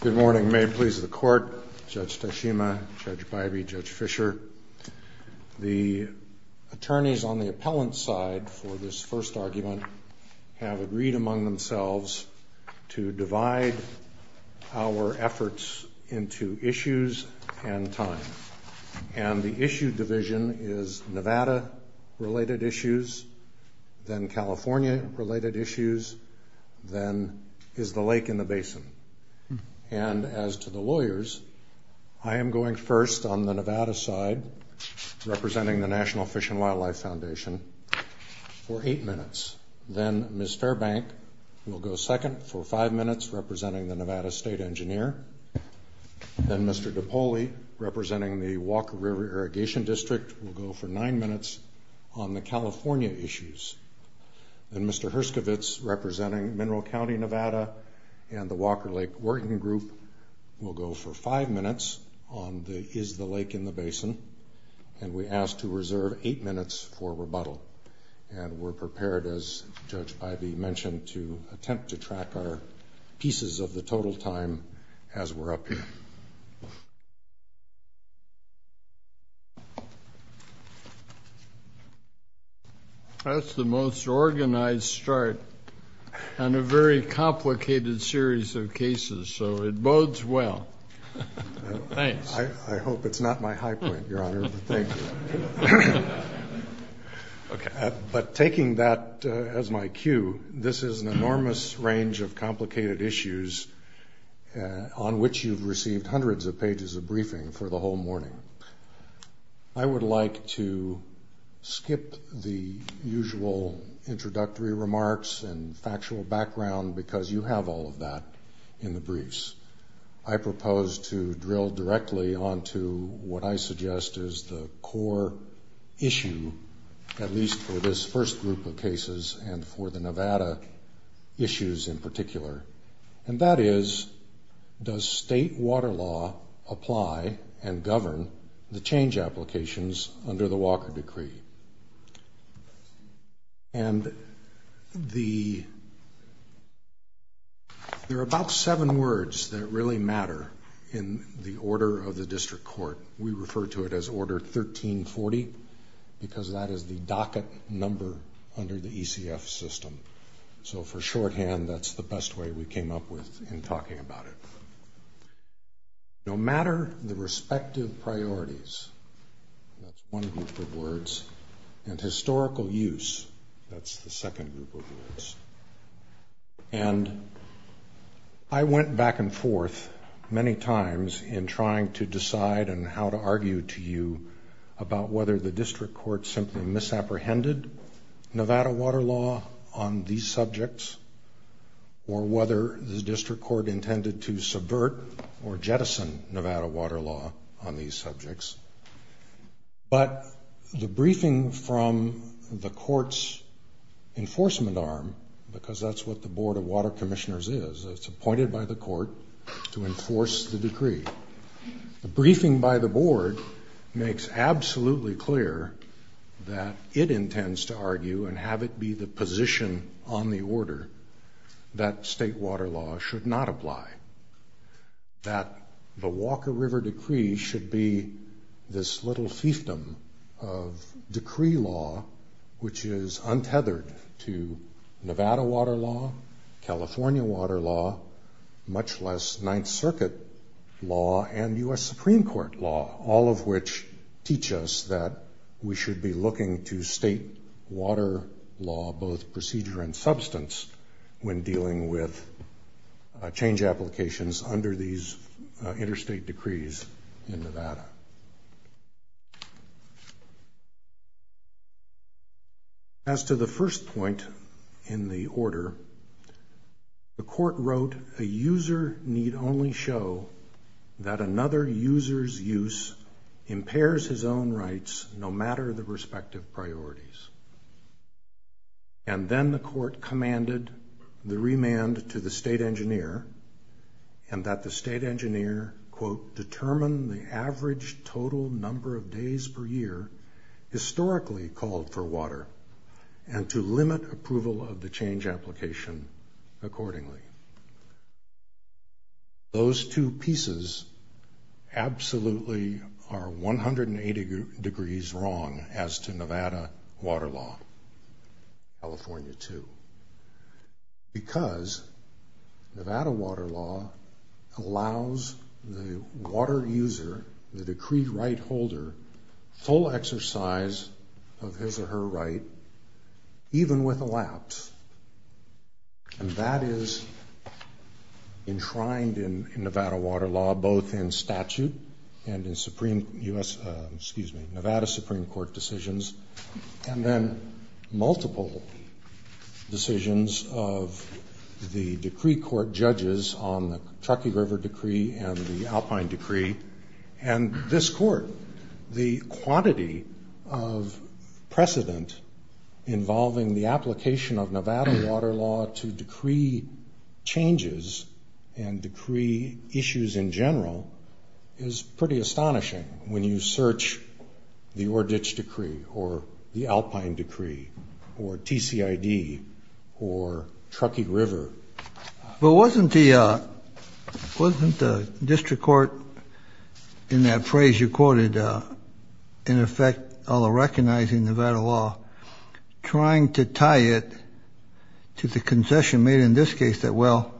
Good morning. May it please the court, Judge Toshima, Judge Bivey, Judge Fischer, the attorneys on the appellant side for this first argument have agreed among themselves to divide our efforts into issues and time. And the issue division is Nevada related issues, then California related issues, then is the lake and the basin. And as to the lawyers, I am going first on the Nevada side, representing the National Fish and Wildlife Foundation, for eight minutes. Then Mr. Bank will go second for five minutes, representing the Nevada State Engineer. Then Mr. DiPoli, representing the Walker River Irrigation District, will go for nine minutes on the California issues. Then Mr. Hrstovitz, representing Monroe County, Nevada, and the Walker Lake Working Group, will go for five minutes on the is the lake and the basin. And we ask to reserve eight minutes for rebuttal. And we're prepared, as Judge Bivey mentioned, to attempt to track our pieces of the total time as we're up here. That's the most organized start on a very complicated series of cases, so it bodes well. Thanks. I hope it's not my high point, Your Honor. But taking that as my cue, this is an enormous range of complicated issues on which you've received hundreds of pages of Skip the usual introductory remarks and factual background, because you have all of that in the briefs. I propose to drill directly onto what I suggest is the core issue, at least for this first group of cases, and for the Nevada issues in particular. And that is, does state water law apply and govern the change applications under the Walker Decree? And the... there are about seven words that really matter in the order of the District Court. We refer to it as Order 1340, because that is the docket number under the ECF system. So for shorthand, that's the best way we came up with in talking about it. No matter the respective priorities, that's one group of words, and historical use, that's the second group of words. And I went back and forth many times in trying to decide and how to on these subjects, or whether the District Court intended to subvert or jettison Nevada water law on these subjects. But the briefing from the court's enforcement arm, because that's what the Board of Water Commissioners is, it's appointed by the court to enforce the decree. The briefing by the board makes absolutely clear that it intends to argue and have it be the position on the order that state water law should not apply. That the Walker River Decree should be this little system of decree law, which is untethered to Nevada water law, California water law, much less Ninth Circuit law and U.S. Supreme Court law, all of which teach us that we should be looking to state water law, both procedure and substance, when dealing with change applications under these interstate decrees in Nevada. As to the first point in the order, the court wrote, a user need only show that another user's use impairs his own rights no matter the respective priorities. And then the court commanded the remand to the state engineer and that the state engineer, quote, determine the average total number of days per year historically called for water and to limit approval of the change application accordingly. Those two pieces absolutely are 180 degrees wrong as to Nevada water law, California too, because Nevada water law allows the water user, the decree right holder, full exercise of his or her right, even with allowance. And that is enshrined in Nevada water law, both in statute and in Nevada Supreme Court decisions, and then multiple decisions of the decree court judges on the Truckee River decree and the Alpine decree. And this court, the quantity of precedent involving the application of Nevada water law to decree changes and decree issues in general is pretty astonishing when you search the Ordich decree or the Alpine decree or TCID or Truckee River. But wasn't the district court, in that phrase you quoted, in effect recognizing Nevada law, trying to tie it to the concession made in this case that, well,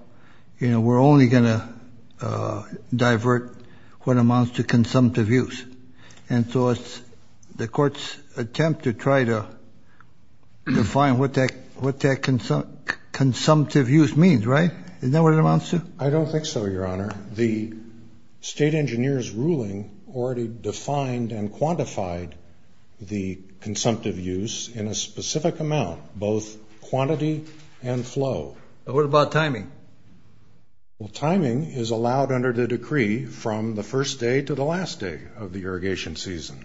you know, we're only going to divert what amounts to consumptive use. And so it's the court's attempt to try to define what that consumptive use means, right? Isn't that what it amounts to? I don't think so, your honor. The state engineer's ruling already defined and quantified the consumptive use in a specific amount, both quantity and flow. What about timing? Well, timing is allowed under the decree from the first day to the last day of the irrigation season.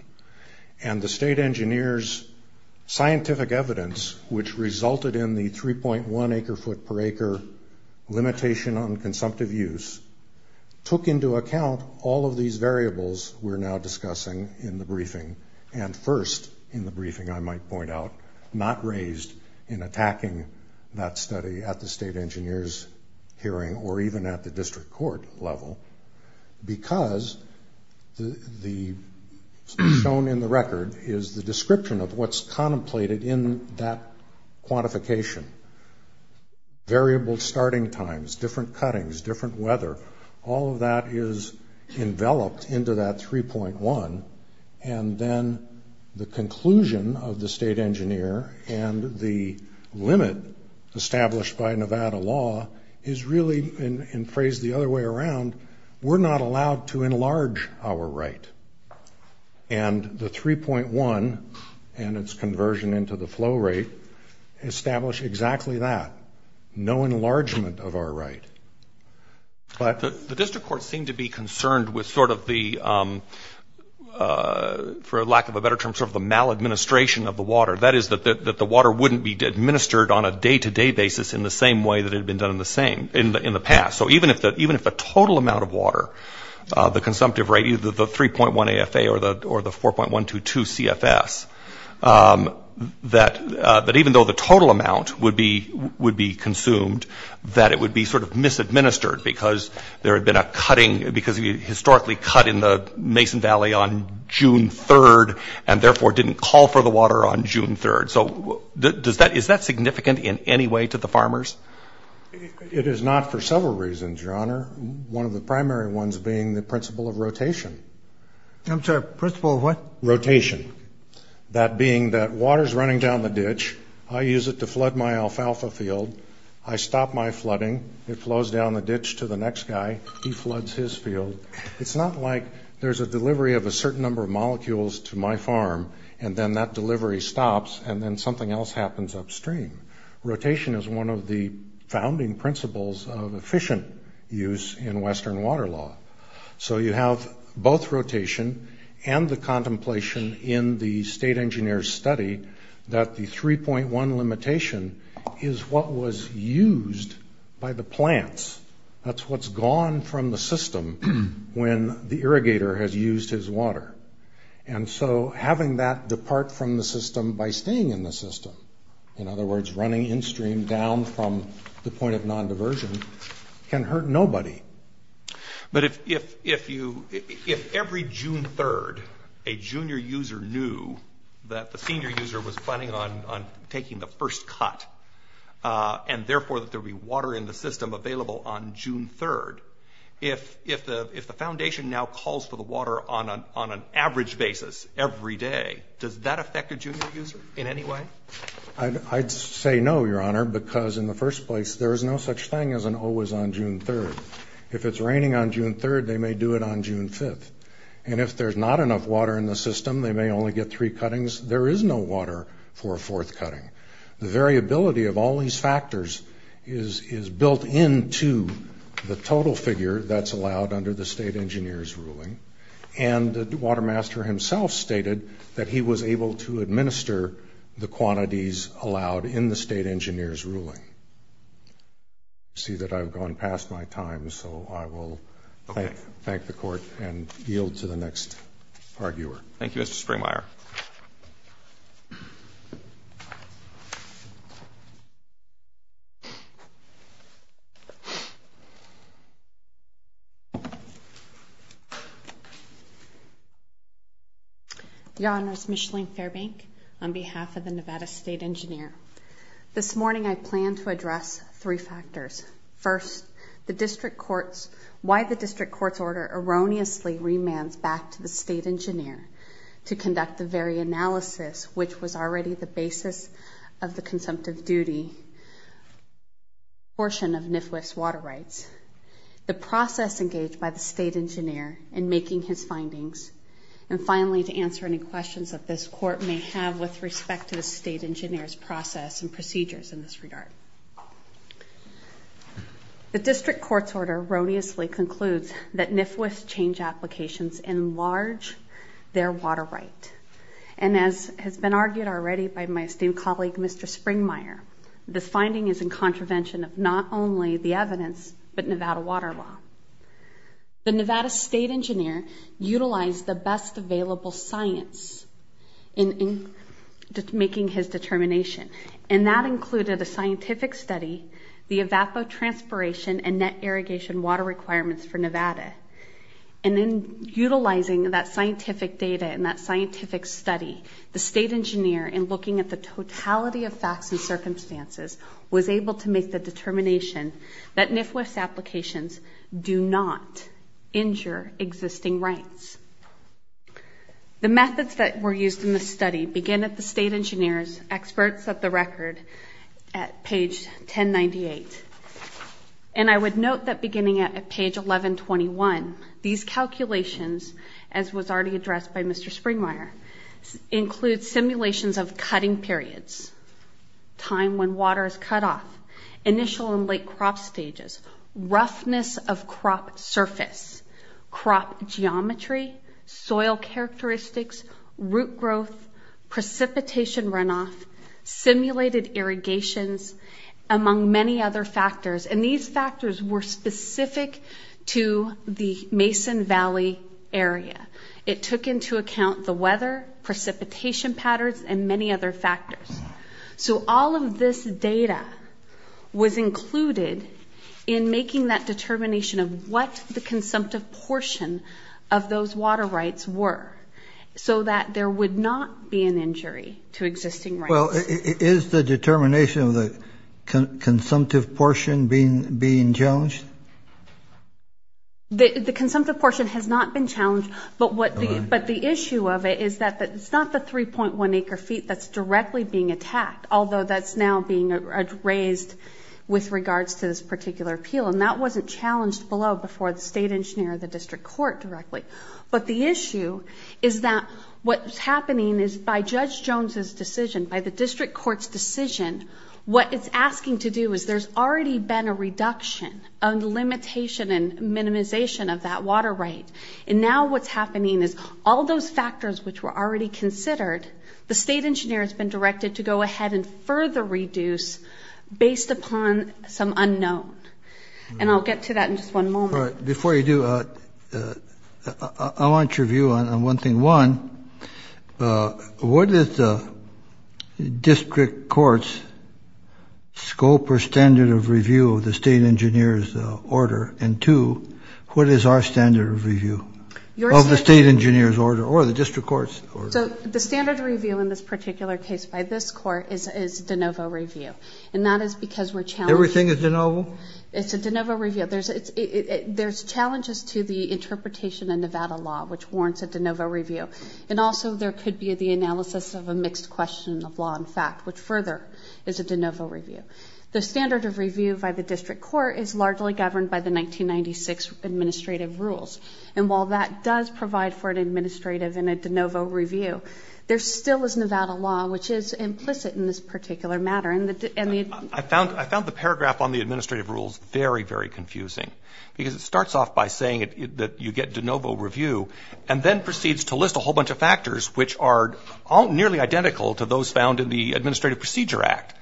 And the state engineer's scientific evidence, which resulted in the 3.1 acre-foot per acre limitation on consumptive use, took into account all of these variables we're now discussing in the briefing, and first in the briefing, I might point out, not raised in attacking that study at the state engineer's hearing or even at the district court level because the stone in the record is the description of what's contemplated in that quantification. Variable starting times, different cuttings, different weather, all of that is enveloped into that 3.1, and then the conclusion of the state engineer and the limit established by Nevada law is really, and phrased the other way around, we're not allowed to enlarge our right. And the 3.1 and its conversion into the flow rate establish exactly that. No enlargement of our right. But the district courts seem to be concerned with sort of the, for lack of a better term, sort of the maladministration of the water. That is, that the water wouldn't be administered on a day-to-day basis in the same way that it had been done in the past. So even if the total amount of water, the consumptive rate, the 3.1 AFA or the 4.122 CFS, that even though the total amount would be consumed, that it would be sort of misadministered because there had been a cutting, because you historically cut in the Mason Valley on June 3rd and therefore didn't call for the water on June 3rd. So is that significant in any way to the farmers? It is not for several reasons, Your Honor. One of the primary ones being the principle of rotation. I'm sorry, principle of what? Rotation. That being that water's running down the ditch, I use it to flood my alfalfa field, I stop my flooding, it flows down the ditch to the next guy, he floods his field. It's not like there's a delivery of a certain number of molecules to my farm and then that delivery stops and then something else happens upstream. Rotation is one of the founding principles of efficient use in Western water law. So you have both rotation and the contemplation in the state engineer's study that the 3.1 limitation is what was used by the plants. That's what's gone from the system when the irrigator has used his water. And so having that depart from the system by staying in the system, in other words, running in-stream down from the point of non-diversion, can hurt nobody. But if every June 3rd a junior user knew that the senior user was planning on taking the first cut and therefore that there would be water in the system available on June 3rd, if the foundation now calls for the water on an average basis every day, does that affect the junior user in any way? I'd say no, Your Honor, because in the first place there is no such thing as an always on June 3rd. If it's raining on June 3rd, they may do it on June 5th. And if there's not enough water in the system, the variability of all these factors is built into the total figure that's allowed under the state engineer's ruling. And the water master himself stated that he was able to administer the quantities allowed in the state engineer's ruling. I see that I've gone past my time, so I will thank the Court and yield to the next arguer. Thank you, Mr. Springer. Your Honor, it's Micheline Fairbank on behalf of the Nevada State Engineer. This morning I plan to address three factors. First, why the district court's order erroneously remands back to the state engineer to conduct the very analysis which was already the basis of the consumptive duty portion of NIFWIS water rights. The process engaged by the state engineer in making his findings. And finally, to answer any questions that this Court may have with respect to the state engineer's process and procedures in this regard. The district court's order erroneously concludes that NIFWIS change applications enlarge their water right. And as has been argued already by my esteemed colleague, Mr. Springmeier, the finding is in contravention of not only the evidence, but Nevada water law. The Nevada State Engineer utilized the best available science in making his determination. And that included a scientific study, the evapotranspiration and net irrigation water requirements for Nevada. And in utilizing that scientific data and that scientific study, the state engineer in looking at the totality of facts and circumstances was able to make the determination that NIFWIS applications do not injure existing rights. The methods that were used in the study begin at the state engineer's experts at the record at page 1098. And I would note that beginning at page 1121, these calculations, as was already addressed by Mr. Springmeier, include simulations of cutting periods, time when water is cut off, initial and late crop stages, roughness of crop surface, crop geometry, soil characteristics, root growth, precipitation runoff, simulated irrigations, among many other factors. And these factors were specific to the Mason Valley area. It took into account the weather, precipitation patterns, and many other factors. So all of this data was included in making that determination of what the consumptive portion of those water rights were so that there would not be an injury to existing rights. Well, is the determination of the consumptive portion being challenged? The consumptive portion has not been challenged. But the issue of it is that it's not the 3.1 acre feet that's directly being attacked, although that's now being raised with regards to this particular appeal. And that wasn't challenged below before the state engineer or the district court directly. But the issue is that what's happening is by Judge Jones's decision, by the district court's decision, what it's asking to do is there's already been a reduction, a limitation and minimization of that water right. And now what's happening is all those factors which were already considered, the state engineer has been directed to go ahead and further reduce based upon some unknown. And I'll get to that in just one moment. Before you do, I want your view on one thing. One, what is the district court's scope or standard of review of the state engineer's order? And two, what is our standard of review of the state engineer's order or the district court's order? So the standard of review in this particular case by this court is de novo review. And that is because we're challenging. Everything is de novo? It's a de novo review. There's challenges to the interpretation in Nevada law which warrants a de novo review. And also there could be the analysis of a mixed question of law and fact which further is a de novo review. The standard of review by the district court is largely governed by the 1996 administrative rules. And while that does provide for an administrative and a de novo review, there still is Nevada law which is implicit in this particular matter. I found the paragraph on the administrative rules very, very confusing. Because it starts off by saying that you get de novo review and then proceeds to list a whole bunch of factors which are all nearly identical to those found in the Administrative Procedure Act.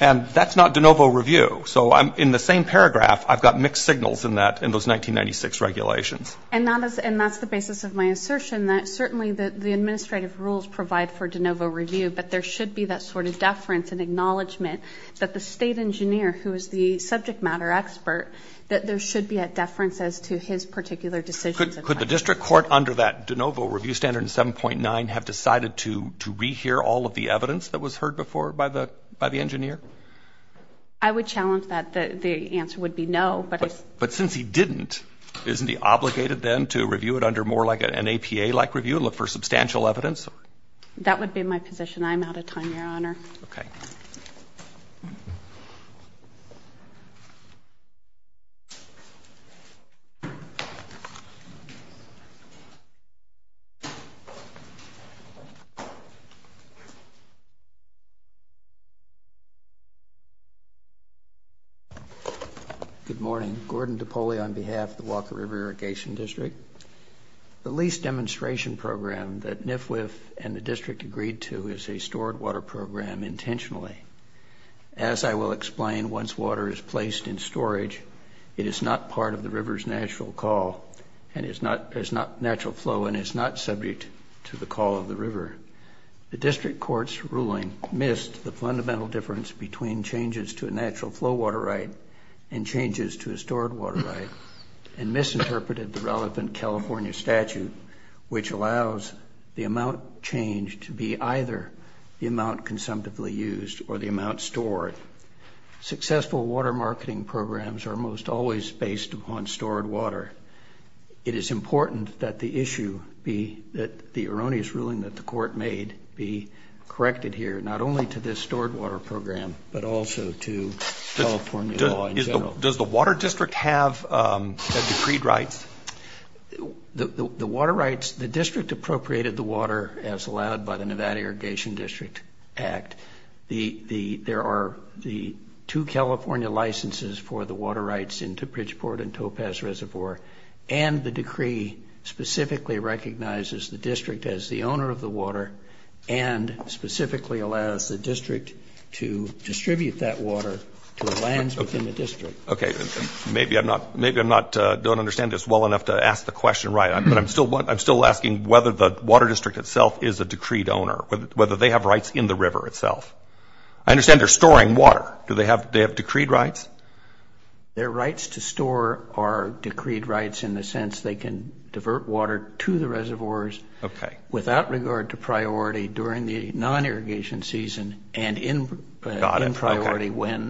And that's not de novo review. So in the same paragraph, I've got mixed signals in those 1996 regulations. And that's the basis of my assertion that certainly the administrative rules provide for de novo review, but there should be that sort of deference and acknowledgement that the state engineer, who is the subject matter expert, that there should be a deference as to his particular decision. Could the district court under that de novo review standard 7.9 have decided to rehear all of the evidence that was heard before by the engineer? I would challenge that. The answer would be no. But since he didn't, isn't he obligated then to review it under more like an APA-like review and look for substantial evidence? That would be my position. I'm out of time, Your Honor. Okay. Good morning. Gordon DiPoli on behalf of the Walker River Irrigation District. The lease demonstration program that NIFWF and the district agreed to is a stored water program intentionally. As I will explain, once water is placed in storage, it is not part of the river's natural call and is not natural flow and is not subject to the call of the river. The district court's ruling missed the fundamental difference between changes to a natural flow water right and changes to a stored water right and misinterpreted the relevant California statute, which allows the amount changed to be either the amount consumptively used or the amount stored. Successful water marketing programs are most always based upon stored water. It is important that the issue be that the erroneous ruling that the court made be corrected here, not only to this stored water program, but also to California law in general. Does the water district have decreed rights? The water rights, the district appropriated the water as allowed by the Nevada Irrigation District Act. There are the two California licenses for the water rights in Toopridgeport and Topaz Reservoir, and the decree specifically recognizes the district as the owner of the water and specifically allows the district to distribute that water to the lands within the district. Okay, maybe I don't understand this well enough to ask the question right. I'm still asking whether the water district itself is a decreed owner, whether they have rights in the river itself. I understand they're storing water. Do they have decreed rights? Their rights to store are decreed rights in the sense they can divert water to the reservoirs without regard to priority during the non-irrigation season and in priority when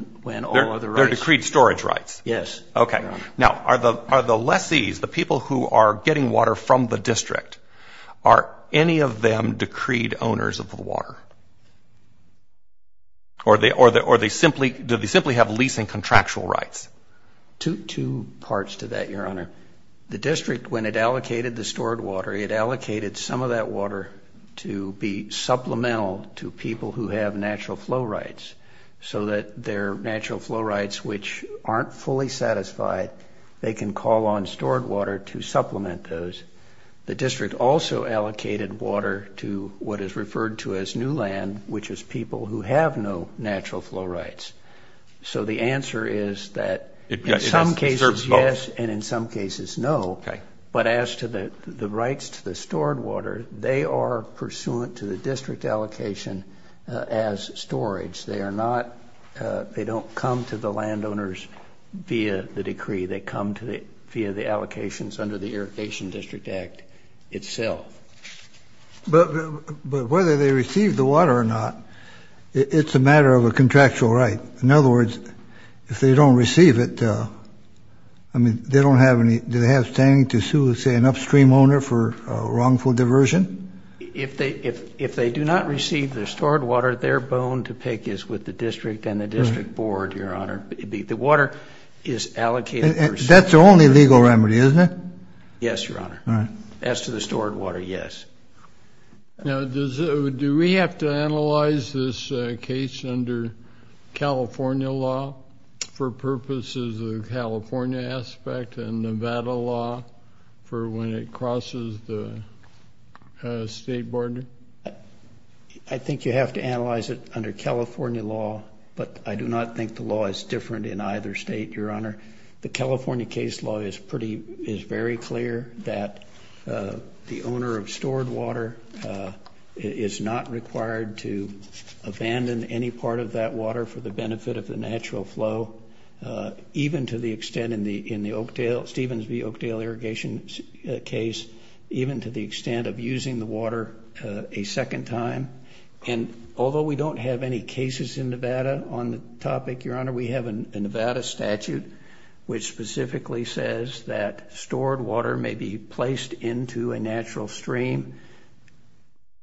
all other rights... They're decreed storage rights. Yes. Okay, now are the lessees, the people who are getting water from the district, are any of them decreed owners of the water? Or do they simply have leasing contractual rights? Two parts to that, Your Honor. The district, when it allocated the stored water, it allocated some of that water to be supplemental to people who have natural flow rights so that their natural flow rights, which aren't fully satisfied, they can call on stored water to supplement those. The district also allocated water to what is referred to as new land, which is people who have no natural flow rights. So the answer is that in some cases, yes, and in some cases, no. Okay. But as to the rights to the stored water, they are pursuant to the district allocation as storage. They don't come to the landowners via the decree. They come via the allocations under the Irrigation District Act itself. But whether they receive the water or not, it's a matter of a contractual right. In other words, if they don't receive it, do they have standing to sue, say, an upstream owner for wrongful diversion? If they do not receive the stored water, their bone to pick is with the district and the district board, Your Honor. The water is allocated. That's the only legal remedy, isn't it? Yes, Your Honor. As to the stored water, yes. Do we have to analyze this case under California law for purposes of California aspect and Nevada law for when it crosses the state border? I think you have to analyze it under California law, but I do not think the law is different in either state, Your Honor. The California case law is very clear that the owner of stored water is not required to abandon any part of that water for the benefit of the natural flow, even to the extent in the Oakdale, Stevens v. Oakdale irrigation case, even to the extent of using the water a second time. And although we don't have any cases in Nevada on the topic, Your Honor, we have a Nevada statute which specifically says that stored water may be placed into a natural stream,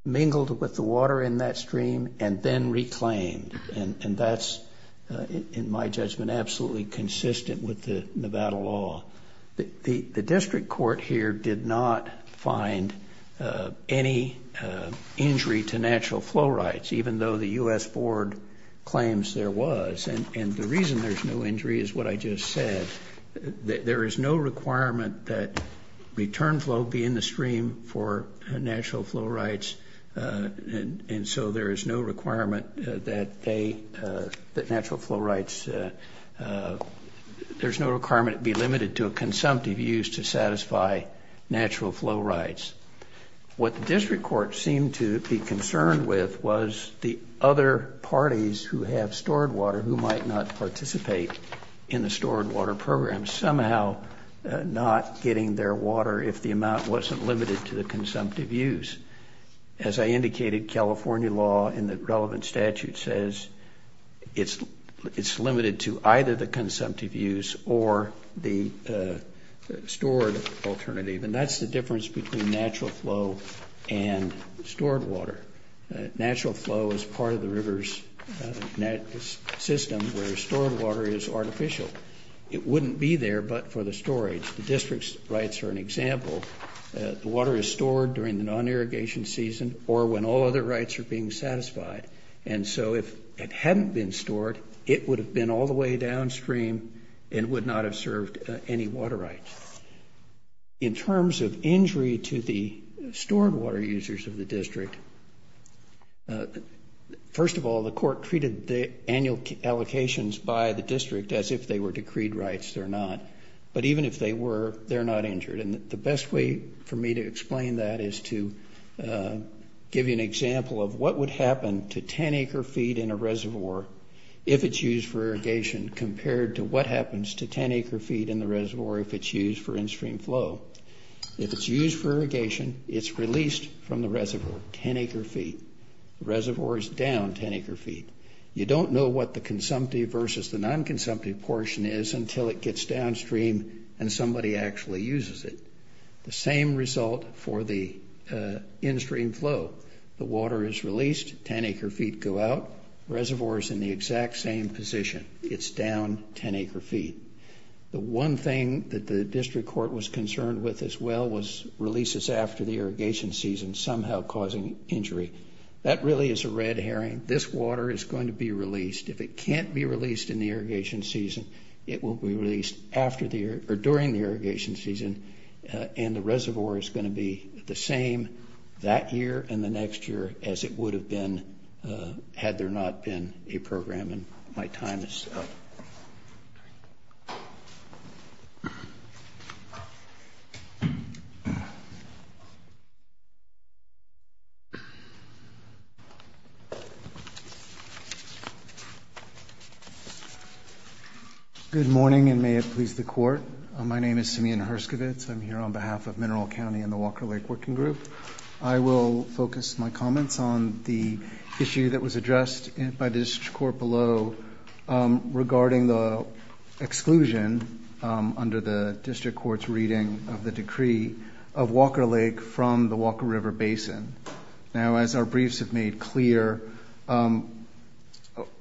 mingled with the water in that stream, and then reclaimed. And that's, in my judgment, absolutely consistent with the Nevada law. The district court here did not find any injury to natural flow rights, even though the U.S. Board claims there was. And the reason there's no injury is what I just said. There is no requirement that return flow be in the stream for natural flow rights, and so there is no requirement that natural flow rights, there's no requirement to be limited to a consumptive use to satisfy natural flow rights. What the district court seemed to be concerned with was the other parties who had stored water who might not participate in the stored water program, somehow not getting their water if the amount wasn't limited to the consumptive use. As I indicated, California law in the relevant statute says it's limited to either the consumptive use or the stored alternative, and that's the difference between natural flow and stored water. Natural flow is part of the river's system, whereas stored water is artificial. It wouldn't be there but for the storage. The district's rights are an example. The water is stored during the non-irrigation season or when all other rights are being satisfied, and so if it hadn't been stored, it would have been all the way downstream and would not have served any water rights. In terms of injury to the stored water users of the district, first of all, the court treated the annual allocations by the district as if they were decreed rights. They're not, but even if they were, they're not injured, and the best way for me to explain that is to give you an example of what would happen to 10 acre feet in a reservoir if it's used for irrigation compared to what happens to 10 acre feet in the reservoir if it's used for in-stream flow. If it's used for irrigation, it's released from the reservoir 10 acre feet. The reservoir is down 10 acre feet. You don't know what the consumptive versus the non-consumptive portion is until it gets downstream and somebody actually uses it. The same result for the in-stream flow. The water is released, 10 acre feet go out, reservoir is in the exact same position. It's down 10 acre feet. The one thing that the district court was concerned with as well was releases after the irrigation season somehow causing injury. That really is a red herring. This water is going to be released. If it can't be released in the irrigation season, it will be released during the irrigation season, and the reservoir is going to be the same that year and the next year as it would have been had there not been a program. My time is up. Good morning and may it please the court. My name is Simeon Herskovitz. I'm here on behalf of Mineral County and the Walker Lake Working Group. I will focus my comments on the issue that was addressed by the district court below regarding the exclusion under the district court's reading of the decree of Walker Lake from the Walker River Basin. Now, as our briefs have made clear,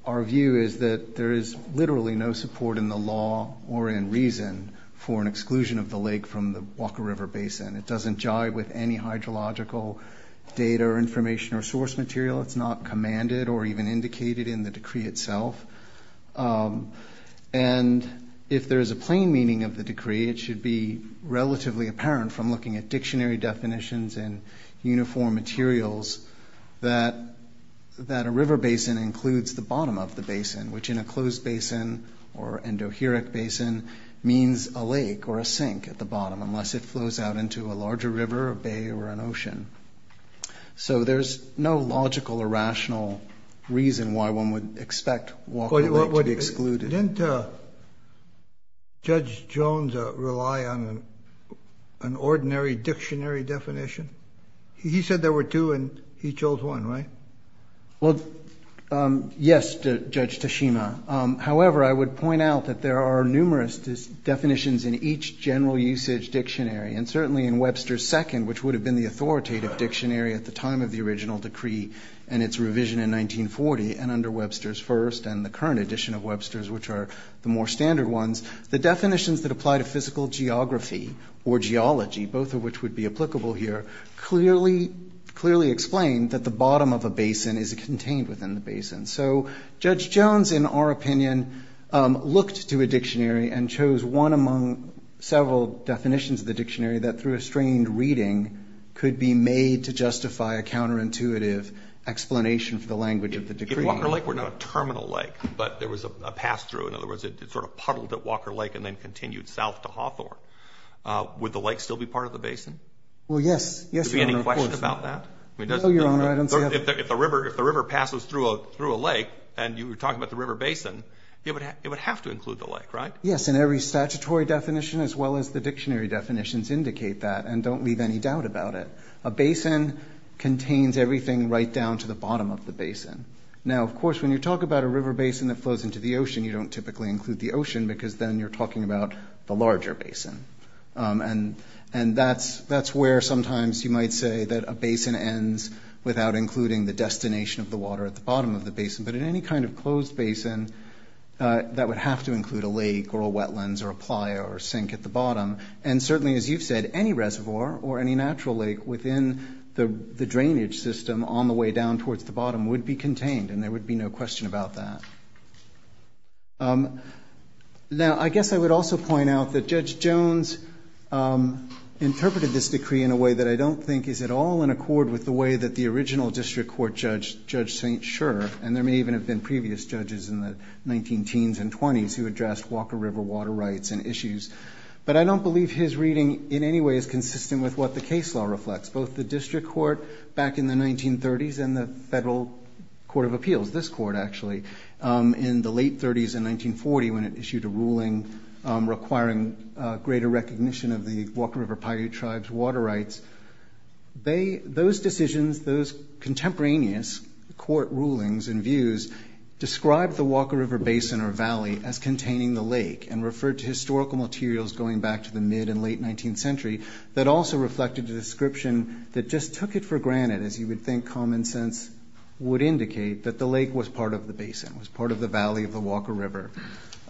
our view is that there is literally no support in the law or in reason for an exclusion of the lake from the Walker River Basin. It doesn't jive with any hydrological data or information or source material. It's not commanded or even indicated in the decree itself. And if there is a plain meaning of the decree, it should be relatively apparent from looking at dictionary definitions and uniform materials that a river basin includes the bottom of the basin, which in a closed basin or endoheric basin means a lake or a sink at the bottom unless it flows out into a larger river, a bay, or an ocean. So there's no logical or rational reason why one would expect Walker Lake to be excluded. Didn't Judge Jones rely on an ordinary dictionary definition? He said there were two and he chose one, right? Well, yes, Judge Tashima. However, I would point out that there are numerous definitions in each general usage dictionary, and certainly in Webster's second, which would have been the authoritative dictionary at the time of the original decree and its revision in 1940, and under Webster's first and the current edition of Webster's, which are the more standard ones, the definitions that apply to physical geography or geology, both of which would be applicable here, clearly explain that the bottom of a basin is contained within the basin. So Judge Jones, in our opinion, looked to a dictionary and chose one among several definitions of the dictionary that through a strained reading could be made to justify a counterintuitive explanation for the language of the decree. If Walker Lake were not a terminal lake, but there was a pass-through, in other words, it sort of puddled at Walker Lake and then continued south to Hawthorne, would the lake still be part of the basin? Well, yes. Any questions about that? No, Your Honor. If the river passes through a lake, and you were talking about the river basin, it would have to include the lake, right? Yes, and every statutory definition as well as the dictionary definitions indicate that and don't leave any doubt about it. A basin contains everything right down to the bottom of the basin. Now, of course, when you talk about a river basin that flows into the ocean, you don't typically include the ocean because then you're talking about the larger basin. And that's where sometimes you might say that a basin ends without including the destination of the water at the bottom of the basin. But in any kind of closed basin, that would have to include a lake or a wetlands or a playa or a sink at the bottom. And certainly, as you've said, any reservoir or any natural lake within the drainage system on the way down towards the bottom would be contained, and there would be no question about that. Now, I guess I would also point out that Judge Jones interpreted this decree in a way that I don't think is at all in accord with the way that the original district court judge, Judge St. Schur, and there may even have been previous judges in the 19-teens and 20s who addressed Walker River water rights and issues, but I don't believe his reading in any way is consistent with what the case law reflects. Both the district court back in the 1930s and the federal court of appeals, this court actually, in the late 30s and 1940 when it issued a ruling requiring greater recognition of the Walker River Paiute tribe's water rights, those decisions, those contemporaneous court rulings and views, described the Walker River basin or valley as containing the lake and referred to historical materials going back to the mid- and late-19th century common sense would indicate that the lake was part of the basin, was part of the valley of the Walker River.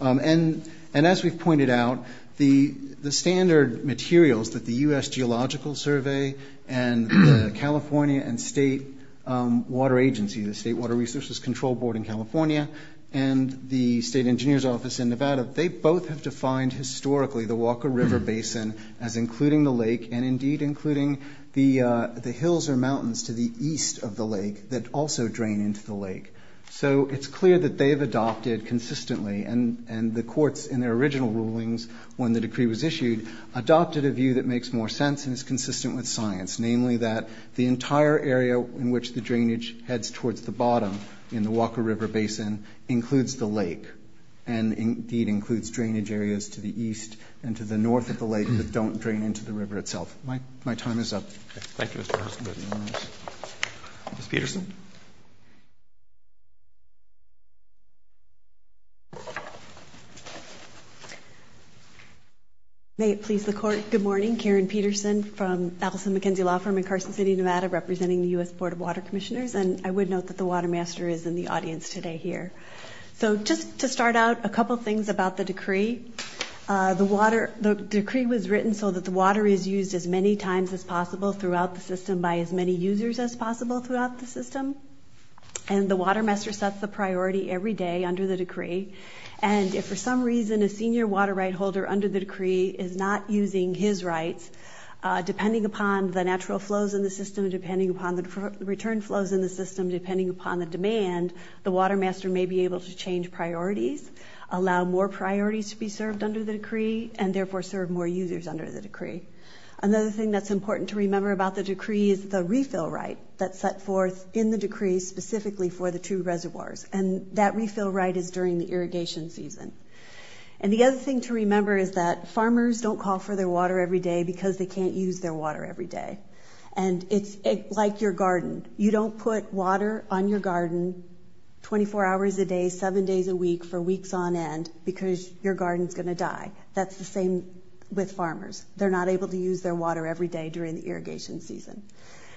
And as we've pointed out, the standard materials that the U.S. Geological Survey and California and State Water Agency, the State Water Resources Control Board in California, and the State Engineer's Office in Nevada, they both have defined historically the Walker River basin as including the lake and indeed including the hills or mountains to the east of the lake that also drain into the lake. So it's clear that they've adopted consistently, and the courts in their original rulings when the decree was issued adopted a view that makes more sense and is consistent with science, namely that the entire area in which the drainage heads towards the bottom in the Walker River basin includes the lake and indeed includes drainage areas to the east and to the north of the lake that don't drain into the river itself. My time is up. Thank you, Mr. Harrison. Ms. Peterson? May it please the Court, good morning. Karen Peterson from Appleton McKenzie Law Firm in Carson City, Nevada, representing the U.S. Board of Water Commissioners. And I would note that the Water Master is in the audience today here. So just to start out, a couple things about the decree. The decree was written so that the water is used as many times as possible throughout the system by as many users as possible throughout the system. And the Water Master sets the priority every day under the decree. And if for some reason a senior water right holder under the decree is not using his rights, depending upon the natural flows in the system, depending upon the return flows in the system, depending upon the demand, the Water Master may be able to change priorities, allow more priorities to be served under the decree, and therefore serve more users under the decree. Another thing that's important to remember about the decree is the refill right that's set forth in the decree specifically for the two reservoirs. And that refill right is during the irrigation season. And the other thing to remember is that farmers don't call for their water every day because they can't use their water every day. And it's like your garden. You don't put water on your garden 24 hours a day, seven days a week for weeks on end because your garden's going to die. That's the same with farmers. They're not able to use their water every day during the irrigation season.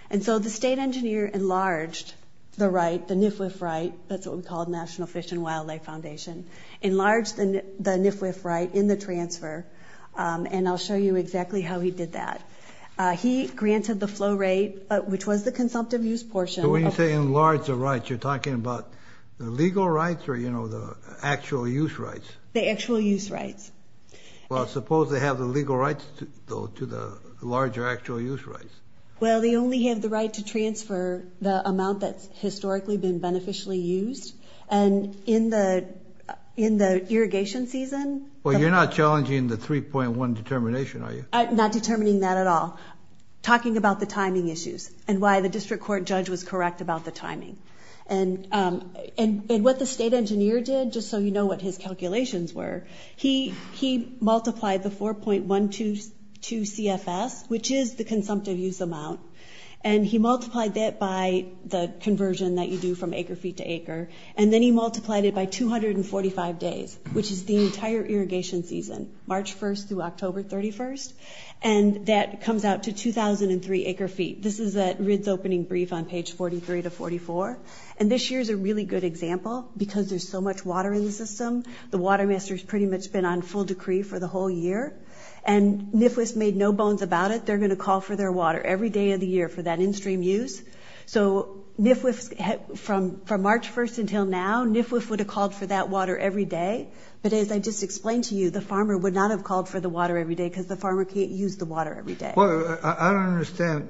And so the state engineer enlarged the right, the NIFWF right, that's what we call the National Fish and Wildlife Foundation, enlarged the NIFWF right in the transfer, and I'll show you exactly how he did that. He granted the flow rate, which was the consumptive use portion. So when you say enlarged the right, you're talking about the legal rights or, you know, the actual use rights? The actual use rights. Well, suppose they have the legal rights to the larger actual use rights. Well, they only have the right to transfer the amount that's historically been beneficially used. And in the irrigation season... Well, you're not challenging the 3.1 determination, are you? Not determining that at all. Talking about the timing issues and why the district court judge was correct about the timing. And what the state engineer did, just so you know what his calculations were, he multiplied the 4.122 CFS, which is the consumptive use amount, and he multiplied that by the conversion that you do from acre-feet to acre, and then he multiplied it by 245 days, which is the entire irrigation season, March 1st through October 31st. And that comes out to 2,003 acre-feet. This is at RID's opening brief on page 43 to 44. And this year's a really good example because there's so much water in the system. The watermaster's pretty much been on full decree for the whole year. And NIFWF made no bones about it. They're going to call for their water every day of the year for that in-stream use. So NIFWF, from March 1st until now, NIFWF would have called for that water every day. But as I just explained to you, the farmer would not have called for the water every day because the farmer can't use the water every day. Well, I don't understand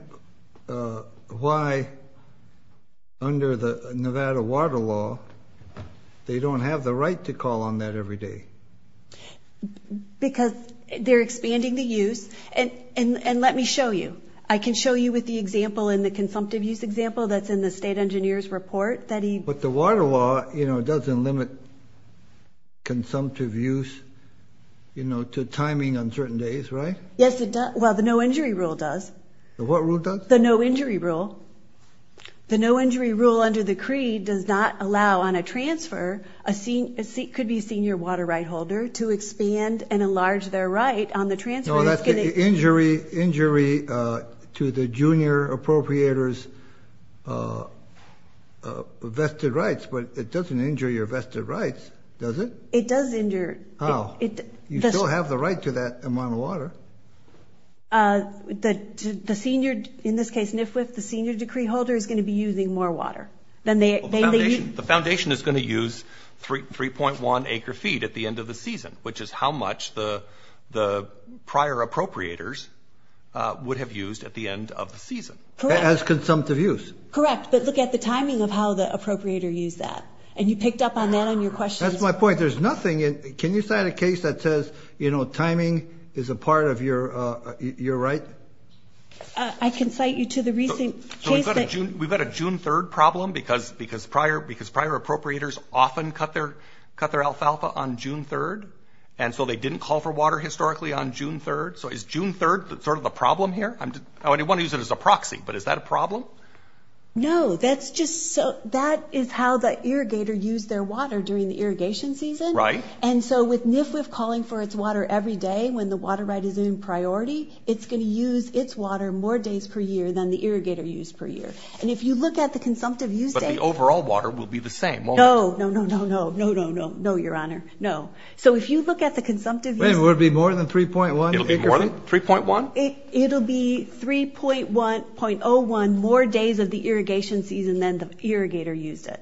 why under the Nevada Water Law they don't have the right to call on that every day. Because they're expanding the use. And let me show you. I can show you with the example in the consumptive use example that's in the state engineer's report. But the water law doesn't limit consumptive use to timing on certain days, right? Yes, it does. Well, the no-injury rule does. The what rule does? The no-injury rule. The no-injury rule under the creed does not allow on a transfer a senior water right holder to expand and enlarge their right on the transfer. Well, that's an injury to the junior appropriator's vested rights. But it doesn't injure your vested rights, does it? It does injure. You still have the right to that amount of water. In this case, NIFWF, the senior decree holder is going to be using more water. The foundation is going to use 3.1 acre feet at the end of the season, which is how much the prior appropriators would have used at the end of the season. Correct. As consumptive use. Correct. But look at the timing of how the appropriator used that. And you picked up on that in your question. That's my point. There's nothing in – can you cite a case that says, you know, timing is a part of your right? I can cite you to the recent case that – So we've got a June 3rd problem because prior appropriators often cut their alfalfa on June 3rd, and so they didn't call for water historically on June 3rd. So is June 3rd sort of the problem here? I want to use it as a proxy, but is that a problem? No. That's just – that is how the irrigator used their water during the irrigation season. Right. And so with NIFWF calling for its water every day when the water right is in priority, it's going to use its water more days per year than the irrigator used per year. And if you look at the consumptive use – But the overall water will be the same. No. No, no, no, no. No, no, no. No, Your Honor. No. So if you look at the consumptive use – Will it be more than 3.1? 3.1? It'll be 3.1.01 more days of the irrigation season than the irrigator used it.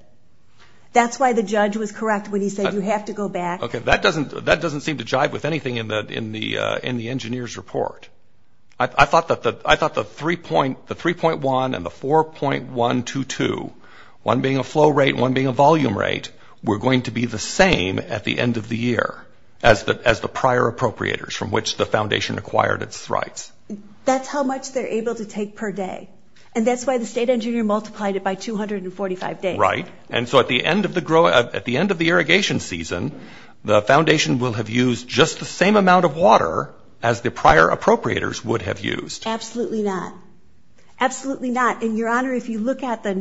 That's why the judge was correct when he said you have to go back. Okay. That doesn't seem to jibe with anything in the engineer's report. I thought the 3.1 and the 4.122, one being a flow rate and one being a volume rate, were going to be the same at the end of the year as the prior appropriators from which the foundation acquired its rights. That's how much they're able to take per day. And that's why the state engineer multiplied it by 245 days. Right. And so at the end of the irrigation season, the foundation will have used just the same amount of water as the prior appropriators would have used. Absolutely not. Absolutely not. And, Your Honor, if you look at the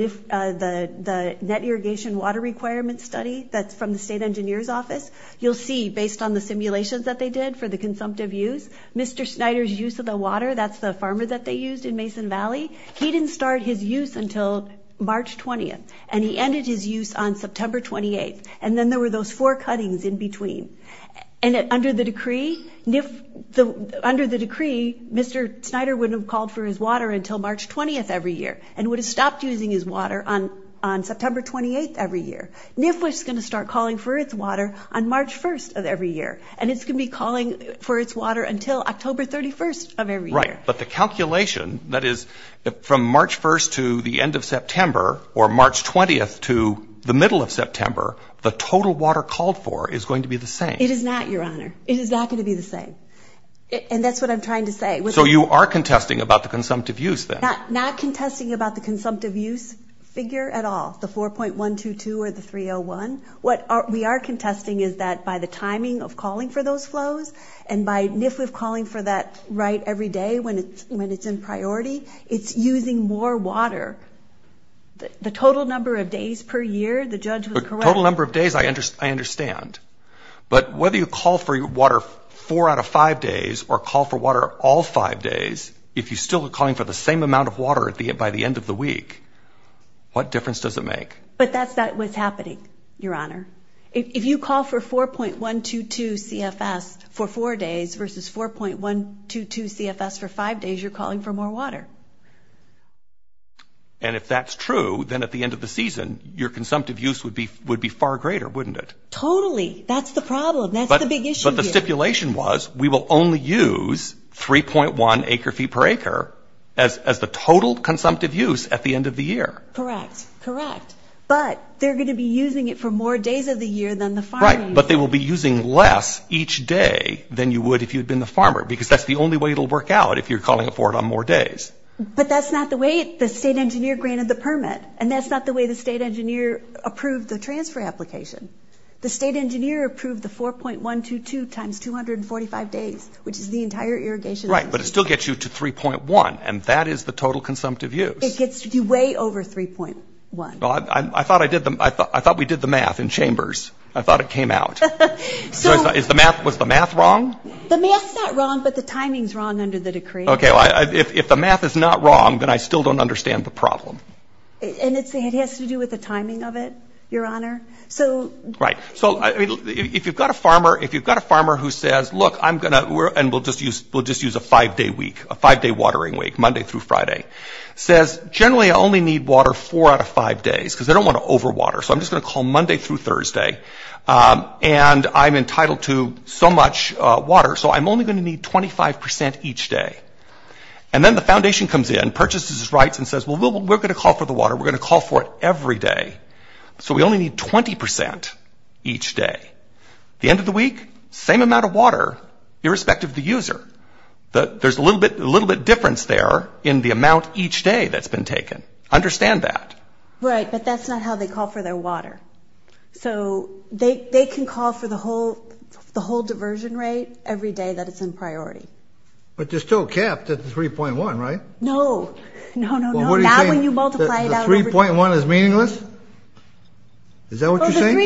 net irrigation water requirement study that's from the state engineer's office, you'll see based on the simulations that they did for the consumptive use, Mr. Schneider's use of the water, that's the farmer that they used in Mason Valley, he didn't start his use until March 20th, and he ended his use on September 28th. And then there were those four cuttings in between. And under the decree, Mr. Schneider wouldn't have called for his water until March 20th every year and would have stopped using his water on September 28th every year. NIF was going to start calling for its water on March 1st of every year, and it's going to be calling for its water until October 31st of every year. Right, but the calculation, that is, from March 1st to the end of September or March 20th to the middle of September, the total water called for is going to be the same. It is not, Your Honor. It is not going to be the same. And that's what I'm trying to say. So you are contesting about the consumptive use, then? Not contesting about the consumptive use figure at all, the 4.122 or the 301. What we are contesting is that by the timing of calling for those flows and by NIF calling for that right every day when it's in priority, it's using more water. The total number of days per year, the judge was correct. The total number of days, I understand. But whether you call for water four out of five days or call for water all five days, if you're still calling for the same amount of water by the end of the week, what difference does it make? But that's what's happening, Your Honor. If you call for 4.122 CFS for four days versus 4.122 CFS for five days, you're calling for more water. And if that's true, then at the end of the season, your consumptive use would be far greater, wouldn't it? Totally. That's the problem. That's the big issue here. But the stipulation was we will only use 3.1 acre-feet per acre as the total consumptive use at the end of the year. Correct. Correct. But they're going to be using it for more days of the year than the farmer. Right. But they will be using less each day than you would if you had been the farmer because that's the only way it will work out if you're calling for it on more days. But that's not the way the state engineer granted the permit, and that's not the way the state engineer approved the transfer application. The state engineer approved the 4.122 times 245 days, which is the entire irrigation. Right, but it still gets you to 3.1, and that is the total consumptive use. It gets you way over 3.1. I thought we did the math in chambers. I thought it came out. Was the math wrong? The math is not wrong, but the timing is wrong under the decree. Okay. If the math is not wrong, then I still don't understand the problem. And it has to do with the timing of it, Your Honor. Right. So if you've got a farmer who says, look, I'm going to, and we'll just use a five-day week, a five-day watering week, Monday through Friday, says generally I only need water four out of five days because I don't want to overwater. So I'm just going to call Monday through Thursday, and I'm entitled to so much water. So I'm only going to need 25% each day. And then the foundation comes in, purchases rights, and says, well, we're going to call for the water. We're going to call for it every day. So we only need 20% each day. The end of the week, same amount of water, irrespective of the user. There's a little bit difference there in the amount each day that's been taken. Understand that. Right, but that's not how they call for their water. So they can call for the whole diversion rate every day that it's in priority. But there's still a cap to 3.1, right? No. No, no, no. That when you multiply it out. The 3.1 is meaningless? Is that what you're saying?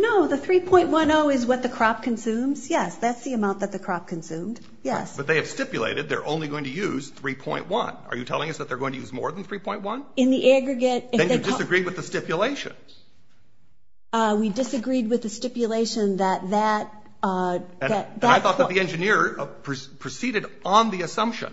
No, the 3.10 is what the crop consumes. Yes, that's the amount that the crop consumes. Yes. But they have stipulated they're only going to use 3.1. Are you telling us that they're going to use more than 3.1? In the aggregate. Then you disagree with the stipulations. We disagreed with the stipulation that that. I thought that the engineer proceeded on the assumption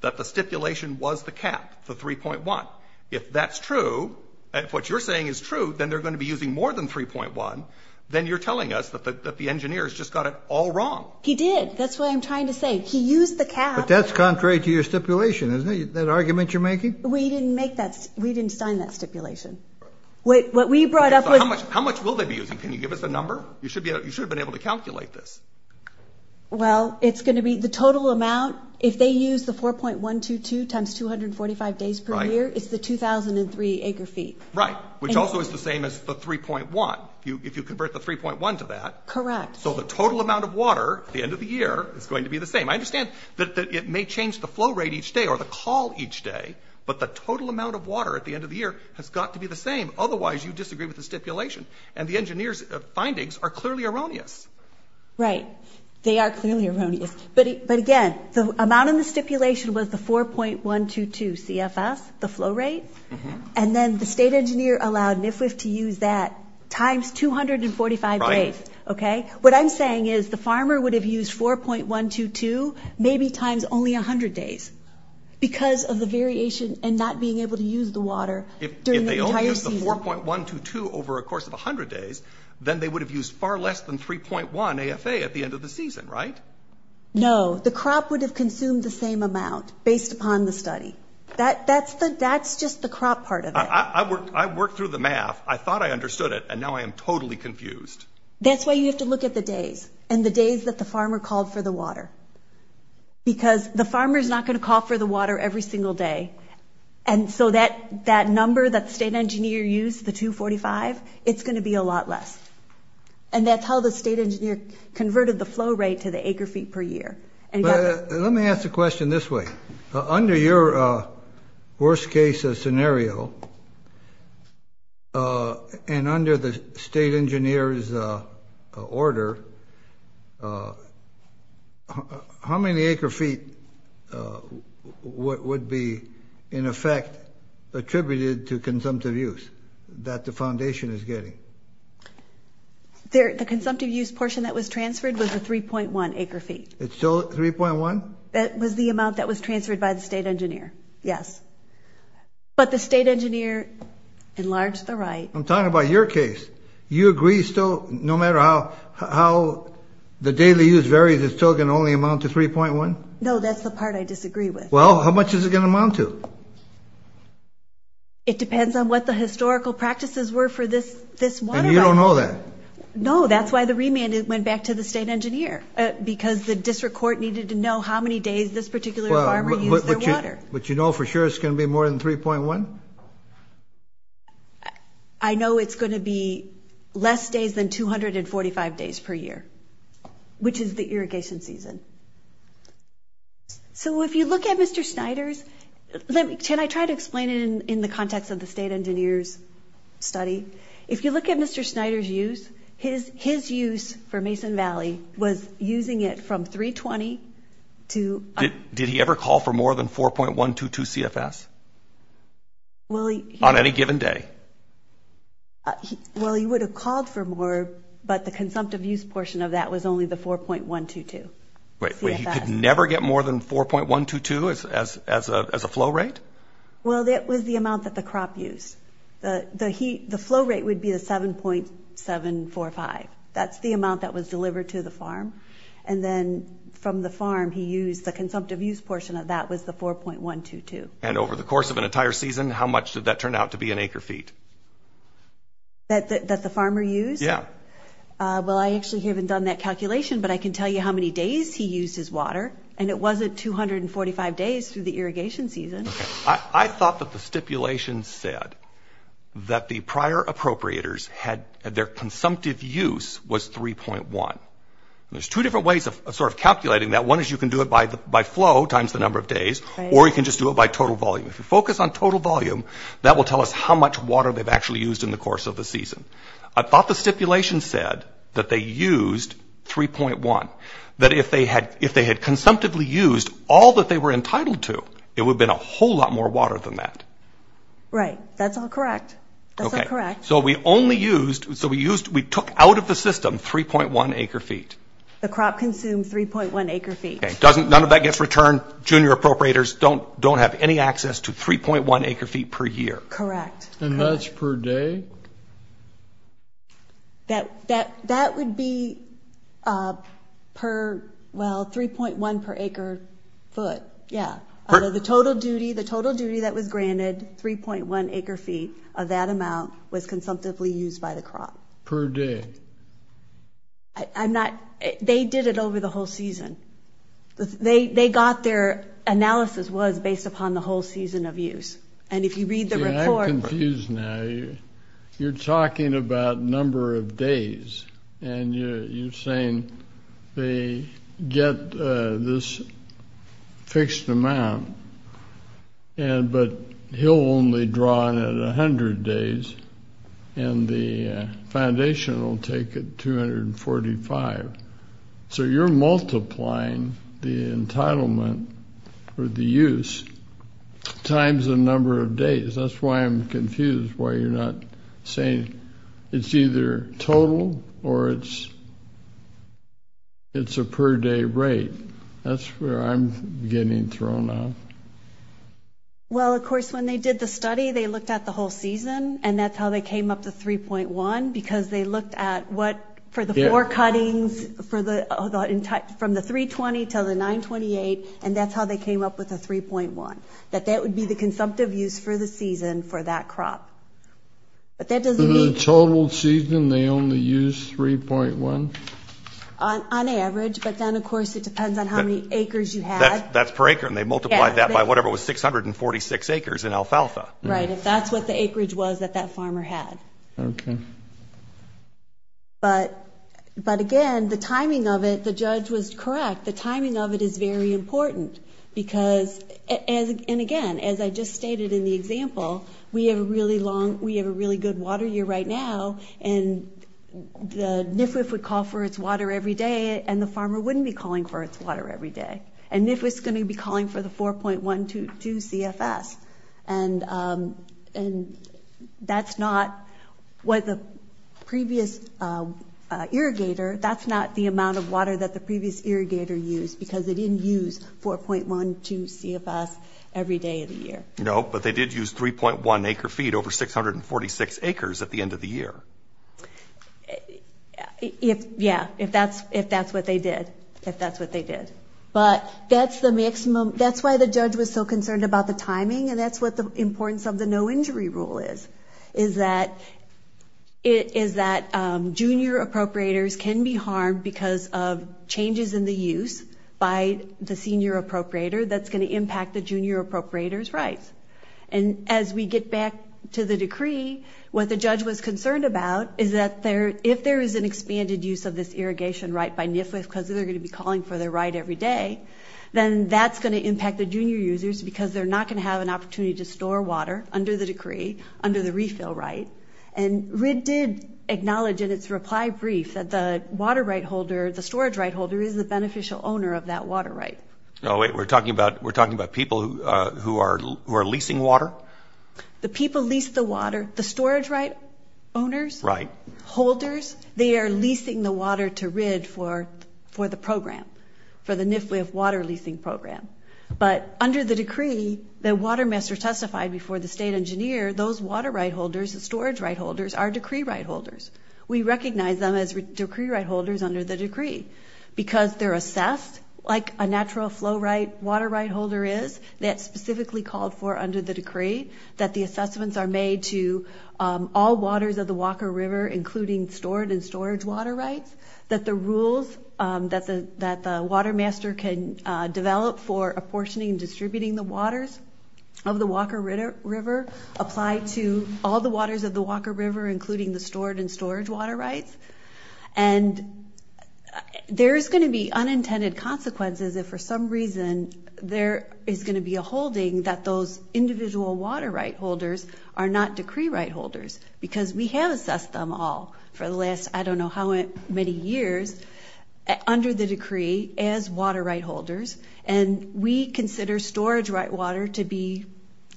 that the stipulation was the cap to 3.1. If that's true, if what you're saying is true, then they're going to be using more than 3.1. Then you're telling us that the engineer has just got it all wrong. He did. That's what I'm trying to say. He used the cap. That argument you're making? We didn't make that. We didn't sign that stipulation. What we brought up was. How much will they be using? Can you give us a number? You should have been able to calculate this. Well, it's going to be the total amount. If they use the 4.122 times 245 days per year, it's the 2,003 acre feet. Right. Which also is the same as the 3.1. If you convert the 3.1 to that. Correct. So the total amount of water at the end of the year is going to be the same. I understand that it may change the flow rate each day or the call each day. But the total amount of water at the end of the year has got to be the same. Otherwise, you disagree with the stipulation. And the engineer's findings are clearly erroneous. Right. They are clearly erroneous. But again, the amount in the stipulation was the 4.122 CFS, the flow rate. And then the state engineer allowed NIFWF to use that times 245 days. Okay. What I'm saying is the farmer would have used 4.122 maybe times only 100 days. Because of the variation and not being able to use the water during the entire season. If they only used the 4.122 over a course of 100 days, then they would have used far less than 3.1 AFA at the end of the season. Right? No. The crop would have consumed the same amount based upon the study. That's just the crop part of it. I worked through the math. I thought I understood it. And now I am totally confused. That's why you have to look at the days and the days that the farmer called for the water. Because the farmer is not going to call for the water every single day. And so that number that the state engineer used, the 245, it's going to be a lot less. And that's how the state engineer converted the flow rate to the acre feet per year. Let me ask a question this way. Under your worst case scenario and under the state engineer's order, how many acre feet would be, in effect, attributed to consumptive use that the foundation is getting? The consumptive use portion that was transferred was the 3.1 acre feet. It's still 3.1? That was the amount that was transferred by the state engineer, yes. But the state engineer enlarged the right. I'm talking about your case. You agree still, no matter how the daily use varies, it's still going to only amount to 3.1? No, that's the part I disagree with. Well, how much is it going to amount to? It depends on what the historical practices were for this water. And you don't know that? No, that's why the remand went back to the state engineer. Because the district court needed to know how many days this particular farmer used their water. But you know for sure it's going to be more than 3.1? I know it's going to be less days than 245 days per year, which is the irrigation season. So if you look at Mr. Schneider's – can I try to explain it in the context of the state engineer's study? If you look at Mr. Schneider's use, his use for Mason Valley was using it from 320 to – Did he ever call for more than 4.122 CFS on any given day? Well, he would have called for more, but the consumptive use portion of that was only the 4.122 CFS. Wait, he could never get more than 4.122 as a flow rate? Well, that was the amount that the crop used. The flow rate would be the 7.745. That's the amount that was delivered to the farm. And then from the farm he used the consumptive use portion of that was the 4.122. And over the course of an entire season, how much did that turn out to be in acre feet? That the farmer used? Yeah. Well, I actually haven't done that calculation, but I can tell you how many days he used his water. And it wasn't 245 days through the irrigation season. I thought that the stipulation said that the prior appropriators had their consumptive use was 3.1. There's two different ways of sort of calculating that. One is you can do it by flow times the number of days, or you can just do it by total volume. If you focus on total volume, that will tell us how much water they've actually used in the course of the season. I thought the stipulation said that they used 3.1. That if they had consumptively used all that they were entitled to, it would have been a whole lot more water than that. Right. That's all correct. Okay. That's all correct. So we took out of the system 3.1 acre feet. The crop consumed 3.1 acre feet. None of that gets returned. Junior appropriators don't have any access to 3.1 acre feet per year. Correct. And that's per day? That would be per, well, 3.1 per acre foot. Yeah. The total duty that was granted, 3.1 acre feet of that amount, was consumptively used by the crop. Per day. I'm not, they did it over the whole season. They got their analysis was based upon the whole season of use. And if you read the report. I'm confused now. You're talking about number of days. And you're saying they get this fixed amount. But he'll only draw it at 100 days. And the foundation will take it 245. So you're multiplying the entitlement for the use times the number of days. That's why I'm confused why you're not saying it's either total or it's a per day rate. That's where I'm getting thrown off. Well, of course, when they did the study, they looked at the whole season. And that's how they came up with 3.1. Because they looked at what, for the four cuttings, from the 320 to the 928. And that's how they came up with the 3.1. That that would be the consumptive use for the season for that crop. The total season they only used 3.1? On average. But then, of course, it depends on how many acres you have. That's per acre. And they multiplied that by whatever it was, 646 acres in alfalfa. Right. If that's what the acreage was that that farmer had. Okay. But, again, the timing of it, the judge was correct. The timing of it is very important. And, again, as I just stated in the example, we have a really good water year right now. And the NFWF would call for its water every day. And the farmer wouldn't be calling for its water every day. And NFWF is going to be calling for the 4.12 CFS. And that's not what the previous irrigator, that's not the amount of water that the previous irrigator used. Because they didn't use 4.12 CFS every day of the year. No, but they did use 3.1 acre feet over 646 acres at the end of the year. Yeah, if that's what they did. If that's what they did. But that's the maximum. That's why the judge was so concerned about the timing. And that's what the importance of the no injury rule is. Is that junior appropriators can be harmed because of changes in the use by the senior appropriator that's going to impact the junior appropriator's rights. And as we get back to the decree, what the judge was concerned about is that if there is an expanded use of this irrigation right by NFWF, because they're going to be calling for their right every day, then that's going to impact the junior users because they're not going to have an opportunity to store water under the decree, under the refill right. And RID did acknowledge in its reply brief that the water right holder, the storage right holder, is a beneficial owner of that water right. Oh, wait, we're talking about people who are leasing water? The people lease the water, the storage right owners, holders, they are leasing the water to RID for the program. For the NFWF water leasing program. But under the decree, the water master testified before the state engineer, those water right holders, the storage right holders, are decree right holders. We recognize them as decree right holders under the decree because they're assessed like a natural flow right, water right holder is. That's specifically called for under the decree, that the assessments are made to all waters of the Walker River, including stored and storage water rights. That the rules that the water master can develop for apportioning and distributing the waters of the Walker River apply to all the waters of the Walker River, including the stored and storage water rights. And there is going to be unintended consequences if for some reason there is going to be a holding that those individual water right holders are not decree right holders. Because we have assessed them all for the last I don't know how many years under the decree as water right holders. And we consider storage right water to be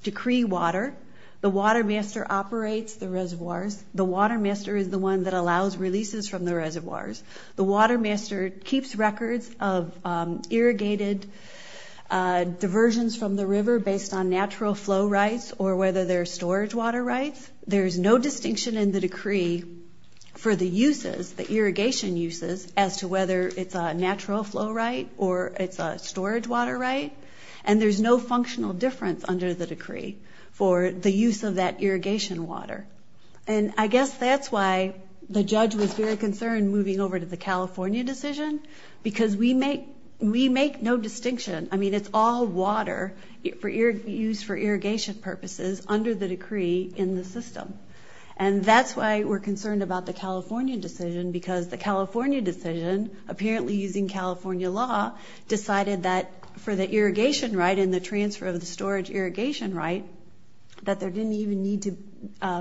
decree water. The water master operates the reservoir. The water master is the one that allows releases from the reservoirs. The water master keeps records of irrigated diversions from the river based on natural flow rights or whether there's storage water rights. There's no distinction in the decree for the uses, the irrigation uses, as to whether it's a natural flow right or it's a storage water right. And there's no functional difference under the decree for the use of that irrigation water. And I guess that's why the judge was very concerned moving over to the California decision. Because we make no distinction. I mean, it's all water used for irrigation purposes under the decree in the system. And that's why we're concerned about the California decision because the California decision, apparently using California law, decided that for the irrigation right and the transfer of storage irrigation right, that there didn't even need to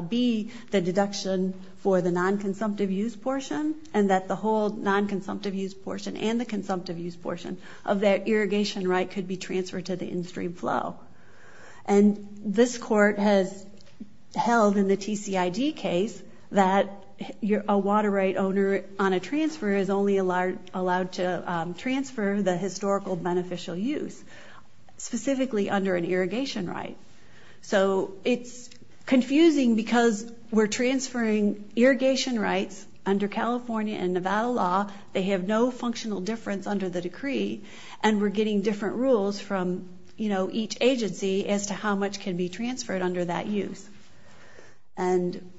be the deduction for the non-consumptive use portion and that the whole non-consumptive use portion and the consumptive use portion of that irrigation right could be transferred to the in-stream flow. And this court has held in the TCID case that a water right owner on a transfer is only allowed to transfer the historical beneficial use, specifically under an irrigation right. So it's confusing because we're transferring irrigation rights under California and Nevada law. They have no functional difference under the decree. And we're getting different rules from each agency as to how much can be transferred under that use. And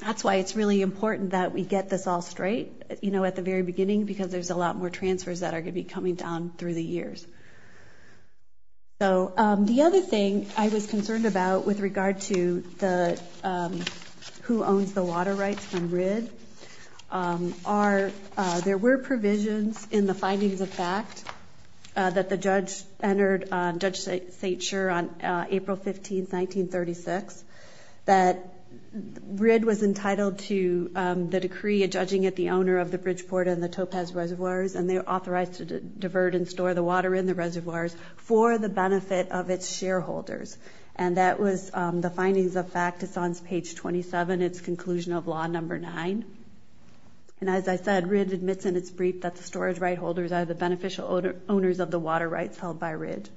that's why it's really important that we get this all straight at the very beginning because there's a lot more transfers that are going to be coming down through the years. So the other thing I was concerned about with regard to who owns the water rights in RID are there were provisions in the findings of fact that the judge entered, Judge St. And as I said, RID admits in its brief that the storage right holders are the beneficial owners of the water rights held by RID.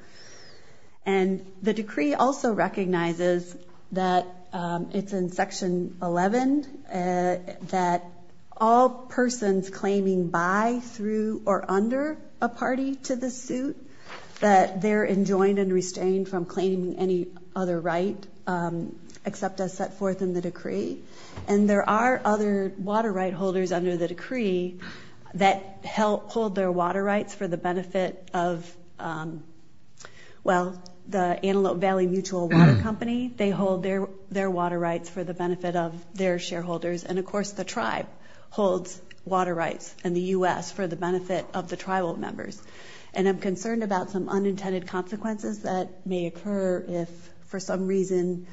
And the decree also recognizes that it's in Section 11 that all persons claiming by, through, or under a party to the suit that they're enjoined and restrained from claiming any other right except as set forth in the decree. And there are other water right holders under the decree that hold their water rights for the benefit of, well, the Antelope Valley Mutual Water Company. They hold their water rights for the benefit of their shareholders. And, of course, the tribe holds water rights in the U.S. for the benefit of the tribal members. And I'm concerned about some unintended consequences that may occur if, for some reason,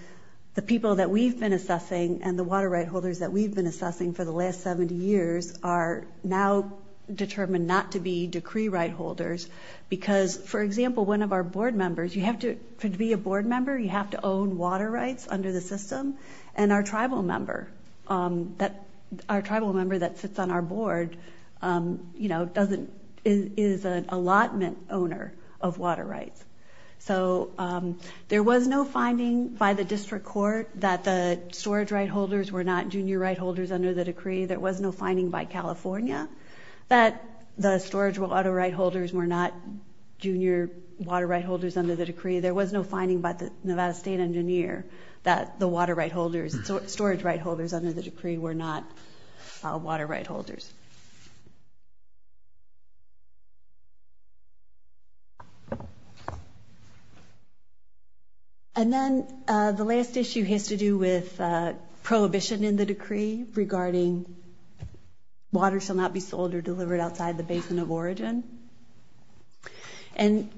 the people that we've been assessing and the water right holders that we've been assessing for the last 70 years are now determined not to be decree right holders. Because, for example, one of our board members, to be a board member you have to own water rights under the system. And our tribal member that sits on our board is an allotment owner of water rights. So there was no finding by the district court that the storage right holders were not junior right holders under the decree. There was no finding by California that the storage water right holders were not junior water right holders under the decree. There was no finding by Nevada State Engineer that the water right holders, storage right holders under the decree were not water right holders. And then the last issue has to do with prohibition in the decree regarding water shall not be sold or delivered outside the basin of origin. And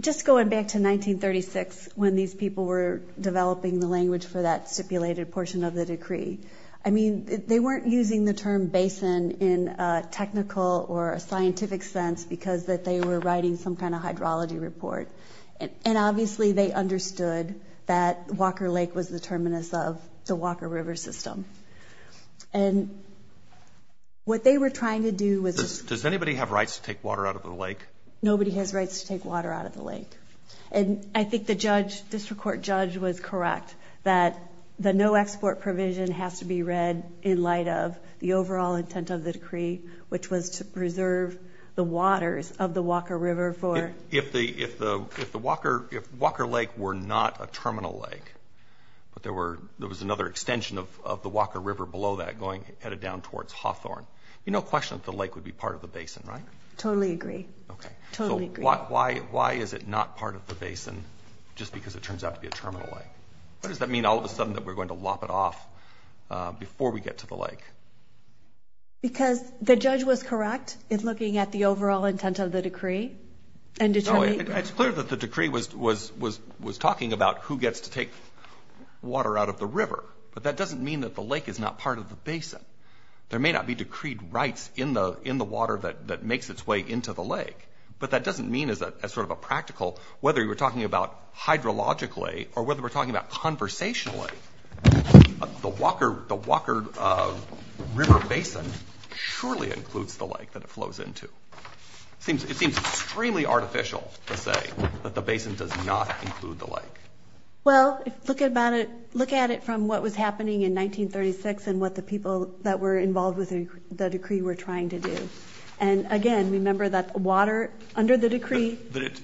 just going back to 1936 when these people were developing the language for that stipulated portion of the decree. I mean, they weren't using the term basin in a technical or scientific sense because they were writing some kind of hydrology report. And obviously they understood that Walker Lake was the terminus of the Walker River system. And what they were trying to do was... Does anybody have rights to take water out of the lake? Nobody has rights to take water out of the lake. And I think the district court judge was correct that the no export provision has to be read in light of the overall intent of the decree, which was to preserve the waters of the Walker River for... If Walker Lake were not a terminal lake, but there was another extension of the Walker River below that headed down towards Hawthorne, you have no question that the lake would be part of the basin, right? Totally agree. So why is it not part of the basin just because it turns out to be a terminal lake? What does that mean all of a sudden that we're going to lop it off before we get to the lake? Because the judge was correct in looking at the overall intent of the decree and determining... It's clear that the decree was talking about who gets to take water out of the river, but that doesn't mean that the lake is not part of the basin. There may not be decreed rights in the water that makes its way into the lake, but that doesn't mean as sort of a practical... Whether you were talking about hydrologically or whether we're talking about conversationally, the Walker River basin surely includes the lake that it flows into. It seems extremely artificial to say that the basin does not include the lake. Well, look at it from what was happening in 1936 and what the people that were involved with the decree were trying to do. And again, remember that water under the decree...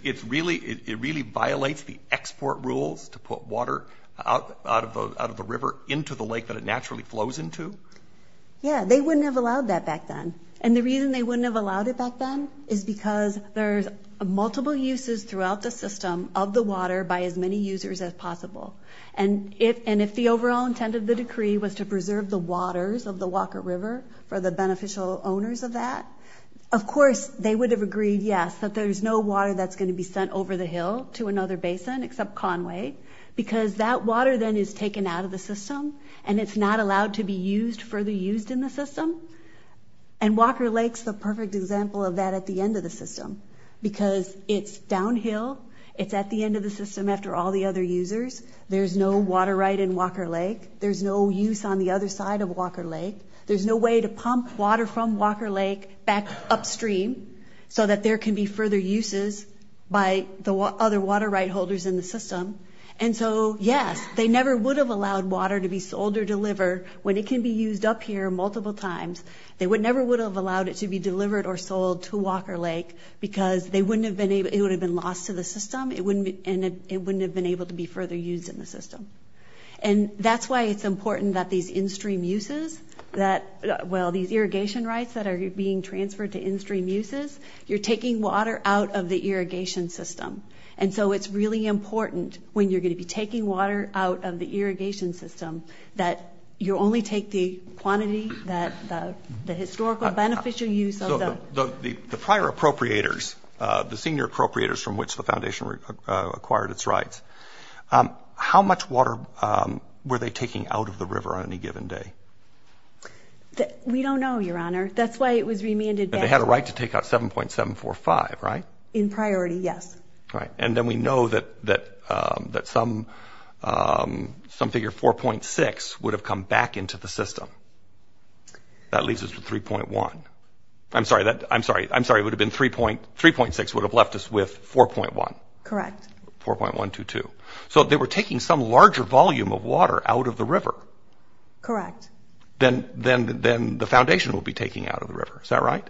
It really violates the export rules to put water out of the river into the lake that it naturally flows into? Yeah, they wouldn't have allowed that back then. And the reason they wouldn't have allowed it back then is because there's multiple uses throughout the system of the water by as many users as possible. And if the overall intent of the decree was to preserve the waters of the Walker River for the beneficial owners of that, of course they would have agreed, yes, that there's no water that's going to be sent over the hill to another basin except Conway because that water then is taken out of the system and it's not allowed to be used for the use in the system. And Walker Lake's a perfect example of that at the end of the system because it's downhill, it's at the end of the system after all the other users. There's no water right in Walker Lake. There's no use on the other side of Walker Lake. There's no way to pump water from Walker Lake back upstream so that there can be further uses by the other water right holders in the system. And so, yes, they never would have allowed water to be sold or delivered when it can be used up here multiple times. They never would have allowed it to be delivered or sold to Walker Lake because it would have been lost to the system and it wouldn't have been able to be further used in the system. And that's why it's important that these in-stream uses that, well, these irrigation rights that are being transferred to in-stream uses, you're taking water out of the irrigation system. And so it's really important when you're going to be taking water out of the irrigation system that you only take the quantity that the historical beneficial use of those. The prior appropriators, the senior appropriators from which the foundation acquired its rights, how much water were they taking out of the river on any given day? We don't know, Your Honor. That's why it was remanded that way. They had a right to take out 7.745, right? In priority, yes. And then we know that some figure 4.6 would have come back into the system. That leaves us with 3.1. I'm sorry, it would have been 3.6 would have left us with 4.1. Correct. 4.122. So they were taking some larger volume of water out of the river. Correct. Then the foundation would be taking out of the river, is that right?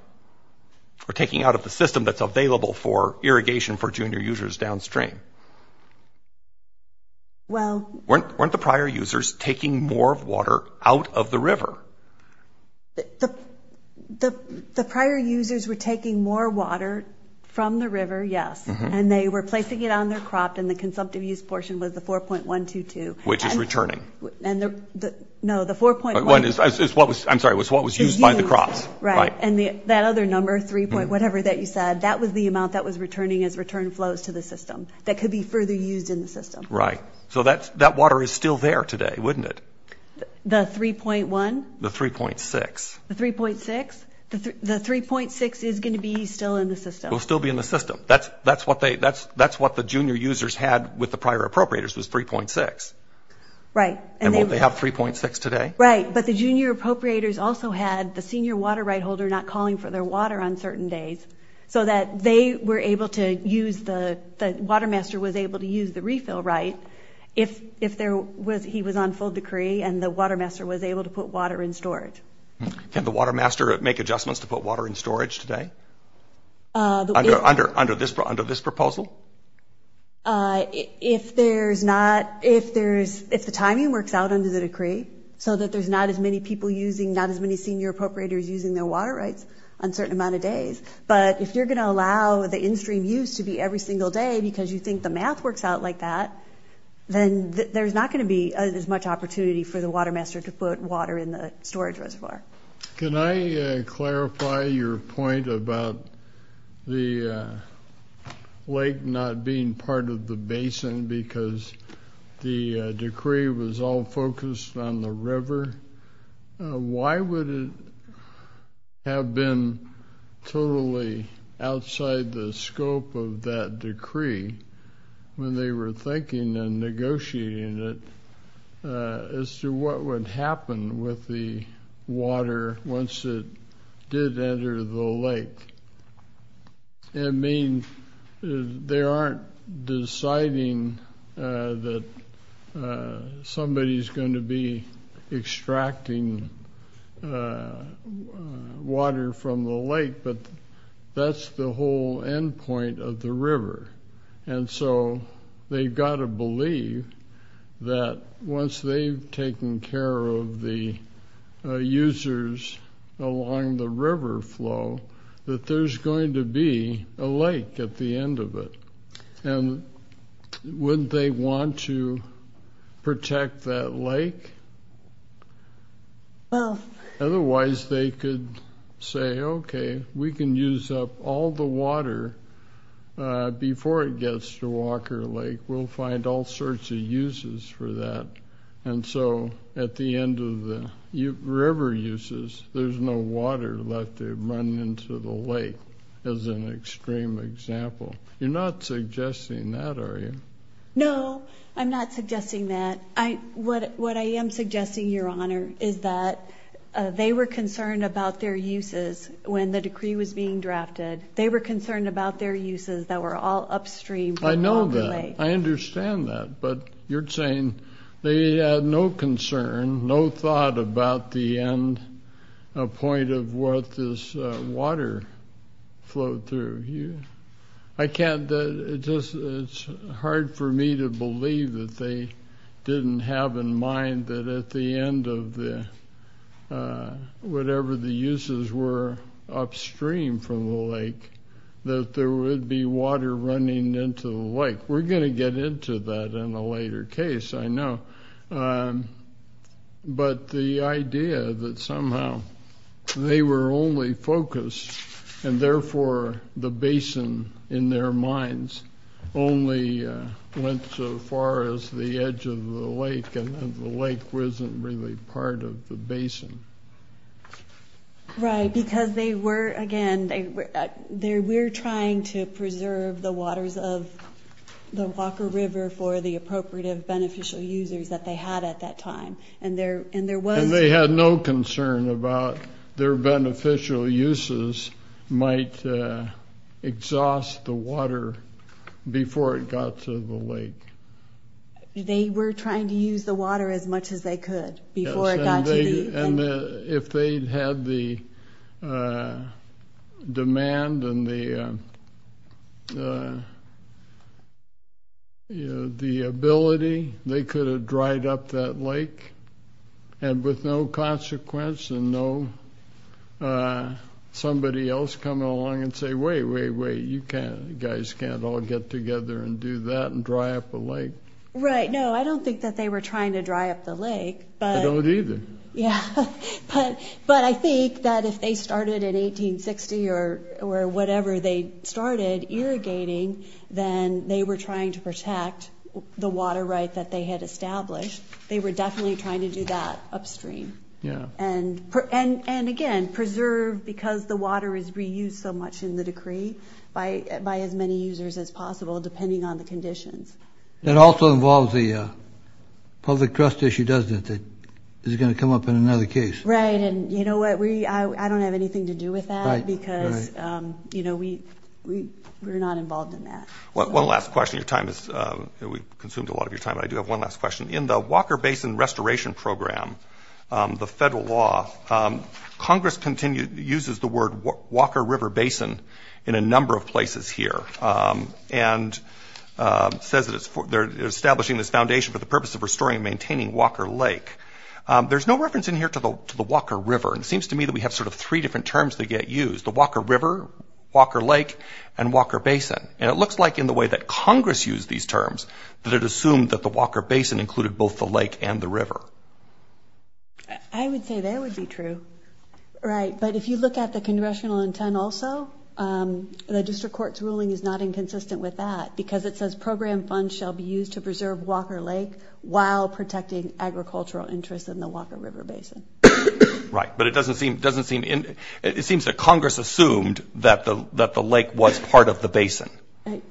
Or taking out of the system that's available for irrigation for junior users downstream. Weren't the prior users taking more water out of the river? The prior users were taking more water from the river, yes, and they were placing it on their crop and the consumptive use portion was the 4.122. Which is returning. No, the 4.122. I'm sorry, it was what was used by the crop. Right, and that other number, 3. whatever that you said, that was the amount that was returning as return flows to the system. That could be further used in the system. Right, so that water is still there today, wouldn't it? The 3.1? The 3.6. The 3.6? The 3.6 is going to be still in the system? Will still be in the system. That's what the junior users had with the prior appropriators was 3.6. Right. And won't they have 3.6 today? Right, but the junior appropriators also had the senior water right holder not calling for their water on certain days so that they were able to use the water master was able to use the refill right if he was on full decree and the water master was able to put water in storage. Can the water master make adjustments to put water in storage today? Under this proposal? If there's not, if the timing works out under the decree so that there's not as many people using, not as many senior appropriators using their water rights on a certain amount of days, but if you're going to allow the in-stream use to be every single day because you think the math works out like that, then there's not going to be as much opportunity for the water master to put water in the storage reservoir. Can I clarify your point about the lake not being part of the basin because the decree was all focused on the river? Why would it have been totally outside the scope of that decree when they were thinking and negotiating it as to what would happen with the water once it did enter the lake? It means they aren't deciding that somebody's going to be extracting water from the lake, but that's the whole end point of the river. And so they've got to believe that once they've taken care of the users along the river flow, that there's going to be a lake at the end of it. And wouldn't they want to protect that lake? Otherwise they could say, okay, we can use up all the water before it gets to Walker Lake. We'll find all sorts of uses for that. And so at the end of the river uses, there's no water left to run into the lake as an extreme example. You're not suggesting that, are you? No, I'm not suggesting that. What I am suggesting, Your Honor, is that they were concerned about their uses when the decree was being drafted. They were concerned about their uses that were all upstream. I know that. I understand that. But you're saying they had no concern, no thought about the end point of what this water flowed through here? It's hard for me to believe that they didn't have in mind that at the end of whatever the uses were upstream from the lake, that there would be water running into the lake. We're going to get into that in a later case, I know. But the idea that somehow they were only focused, and therefore the basin in their minds only went so far as the edge of the lake and that the lake wasn't really part of the basin. Right, because they were, again, they were trying to preserve the waters of the Walker River for the appropriate beneficial users that they had at that time. And they had no concern about their beneficial uses might exhaust the water before it got to the lake. They were trying to use the water as much as they could before it got to the lake. And if they'd had the demand and the ability, they could have dried up that lake, and with no consequence and no somebody else coming along and saying, wait, wait, wait, you guys can't all get together and do that and dry up the lake. Right, no, I don't think that they were trying to dry up the lake. I don't either. Yeah, but I think that if they started in 1860 or whatever they started irrigating, then they were trying to protect the water rights that they had established. They were definitely trying to do that upstream. Yeah. And again, preserve because the water is reused so much in the decree by as many users as possible, depending on the conditions. That also involves the public trust issue, doesn't it, that is going to come up in another case? Right, and you know what? I don't have anything to do with that because we're not involved in that. One last question. We've consumed a lot of your time, but I do have one last question. In the Walker Basin Restoration Program, the federal law, Congress uses the word Walker River Basin in a number of places here and says they're establishing this foundation for the purpose of restoring and maintaining Walker Lake. There's no reference in here to the Walker River. It seems to me that we have sort of three different terms that get used, the Walker River, Walker Lake, and Walker Basin. And it looks like in the way that Congress used these terms, that it assumed that the Walker Basin included both the lake and the river. I would say that would be true. Right, but if you look at the congressional intent also, the district court's ruling is not inconsistent with that because it says program funds shall be used to preserve Walker Lake while protecting agricultural interests in the Walker River Basin. Right, but it doesn't seem – it seems that Congress assumed that the lake was part of the basin. And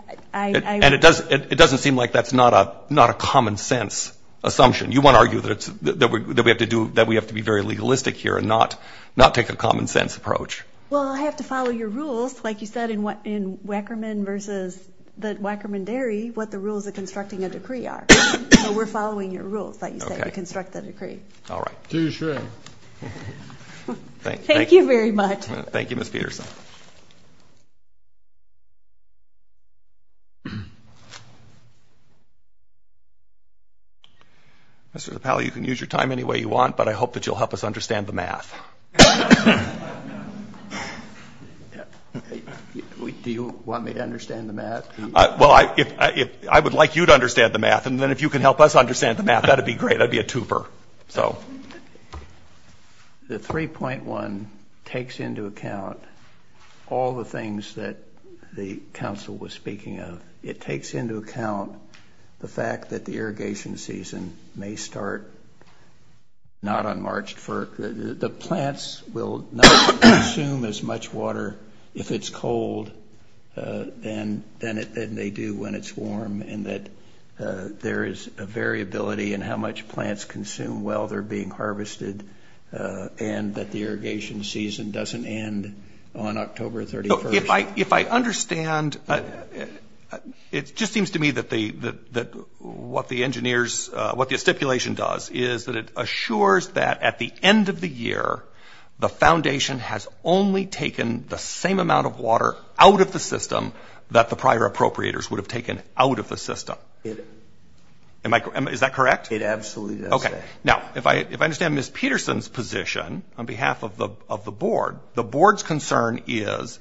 it doesn't seem like that's not a common sense assumption. You want to argue that we have to be very legalistic here and not take a common sense approach. Well, I have to follow your rules. Like you said, in Wackerman versus the Wackerman Dairy, what the rules of constructing a decree are. So we're following your rules, like you said, to construct the decree. All right. You should. Thank you very much. Thank you, Ms. Peterson. Mr. Napal, you can use your time any way you want, but I hope that you'll help us understand the math. Do you want me to understand the math? Well, I would like you to understand the math. And then if you can help us understand the math, that would be great. I'd be a tuper. The 3.1 takes into account all the things that the council was speaking of. It takes into account the fact that the irrigation season may start not on March 1st. The plants will not consume as much water if it's cold than they do when it's warm, and that there is a variability in how much plants consume while they're being harvested, and that the irrigation season doesn't end on October 31st. If I understand, it just seems to me that what the stipulation does is that it assures that at the end of the year, the foundation has only taken the same amount of water out of the system that the prior appropriators would have taken out of the system. Is that correct? It absolutely is. Okay. Now, if I understand Ms. Peterson's position on behalf of the board, the board's concern is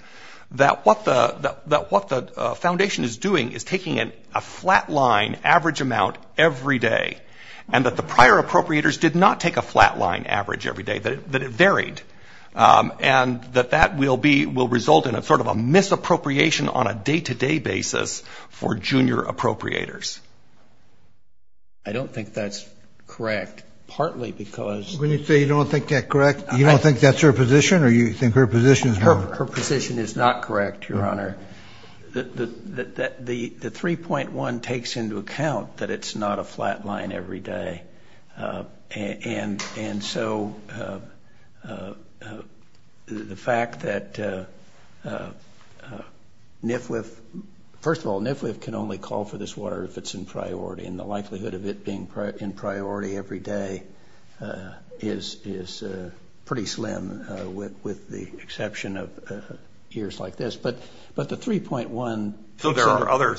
that what the foundation is doing is taking a flat-line average amount every day, and that the prior appropriators did not take a flat-line average every day, that it varied, and that that will result in sort of a misappropriation on a day-to-day basis for junior appropriators. I don't think that's correct, partly because... When you say you don't think that's correct, you don't think that's her position, or you think her position is wrong? Her position is not correct, Your Honor. The 3.1 takes into account that it's not a flat-line every day, and so the fact that NFWF, first of all, NFWF can only call for this water if it's in priority, and the likelihood of it being in priority every day is pretty slim with the exception of years like this, but the 3.1... There are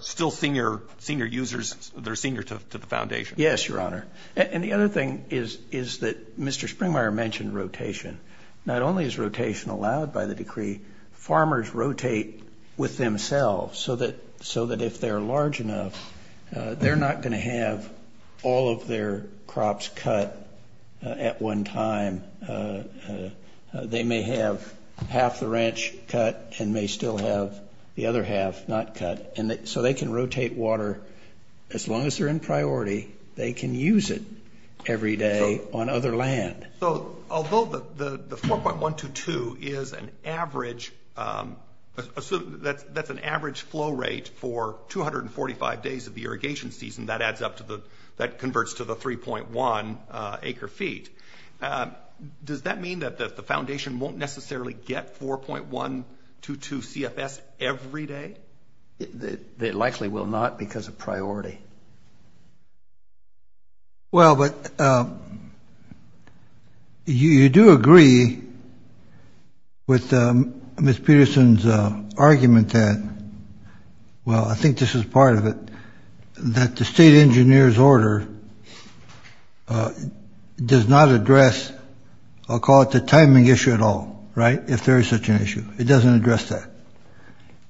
still senior users, they're senior to the foundation. Yes, Your Honor. And the other thing is that Mr. Springmeier mentioned rotation. Not only is rotation allowed by the decree, farmers rotate with themselves, so that if they're large enough, they're not going to have all of their crops cut at one time. They may have half the ranch cut and may still have the other half not cut, so they can rotate water as long as they're in priority. They can use it every day on other land. So, although the 4.122 is an average... That's an average flow rate for 245 days of the irrigation season. That converts to the 3.1 acre feet. Does that mean that the foundation won't necessarily get 4.122 CFS every day? It likely will not because of priority. Well, but you do agree with Ms. Peterson's argument that, well, I think this is part of it, that the state engineer's order does not address, I'll call it the timing issue at all, right, if there is such an issue. It doesn't address that.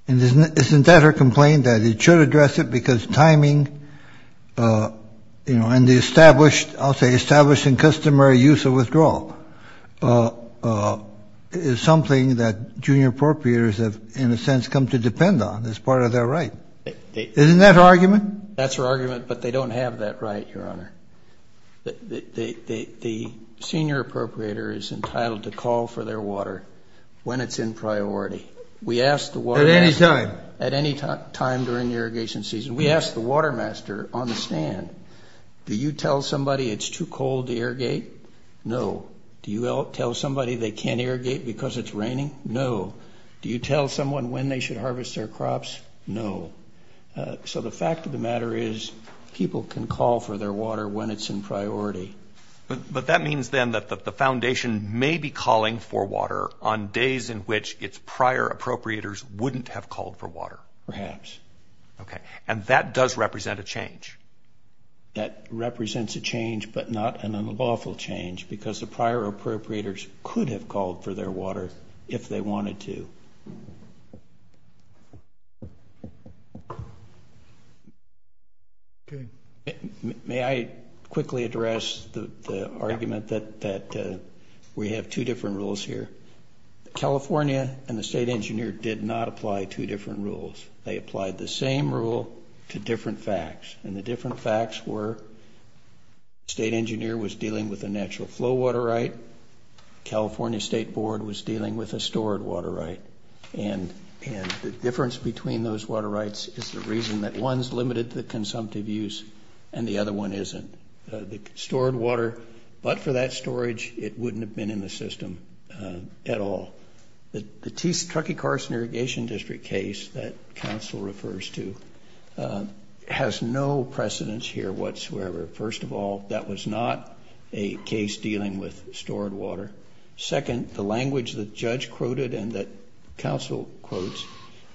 And isn't that her complaint, that it should address it because timing, you know, and the established, I'll say established and customary use of withdrawal, is something that junior appropriators have, in a sense, come to depend on as part of their right. Isn't that her argument? That's her argument, but they don't have that right, Your Honor. The senior appropriator is entitled to call for their water when it's in priority. At any time? At any time during the irrigation season. We asked the water master on the stand, do you tell somebody it's too cold to irrigate? No. Do you tell somebody they can't irrigate because it's raining? No. Do you tell someone when they should harvest their crops? No. So the fact of the matter is, people can call for their water when it's in priority. But that means, then, that the foundation may be calling for water on days in which its prior appropriators wouldn't have called for water. Perhaps. Okay. And that does represent a change. That represents a change, but not an unlawful change, because the prior appropriators could have called for their water if they wanted to. May I quickly address the argument that we have two different rules here? California and the state engineer did not apply two different rules. They applied the same rule to different facts. And the different facts were, state engineer was dealing with a natural flow water right. California state board was dealing with a stored water right. And the difference between those water rights is the reason that one is limited to the consumptive use and the other one isn't. The stored water, but for that storage, it wouldn't have been in the system at all. The Truckee Carson Irrigation District case that counsel refers to has no precedence here whatsoever. First of all, that was not a case dealing with stored water. Second, the language the judge quoted and that counsel quotes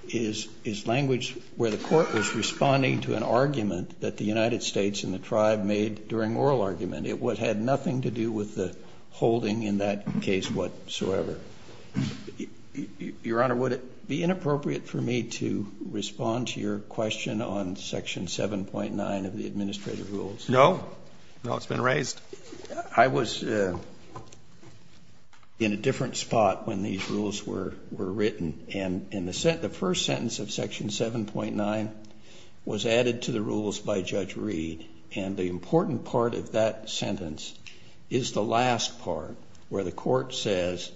is language where the court was responding to an argument that the United States and the tribe made during oral argument. It had nothing to do with the holding in that case whatsoever. Your Honor, would it be inappropriate for me to respond to your question on section 7.9 of the administrative rules? No. No, it's been raised. I was in a different spot when these rules were written. And the first sentence of section 7.9 was added to the rules by Judge Reed. And the important part of that sentence is the last part where the court says,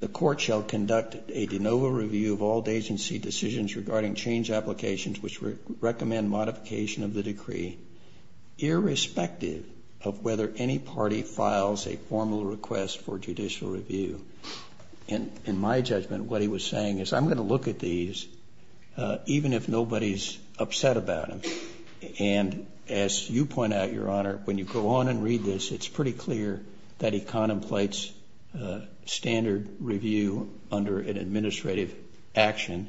the court shall conduct a de novo review of all agency decisions regarding change applications which recommend modification of the decree, irrespective of whether any party files a formal request for judicial review. In my judgment, what he was saying is I'm going to look at these even if nobody's upset about them. And as you point out, Your Honor, when you go on and read this, it's pretty clear that he contemplates standard review under an administrative action.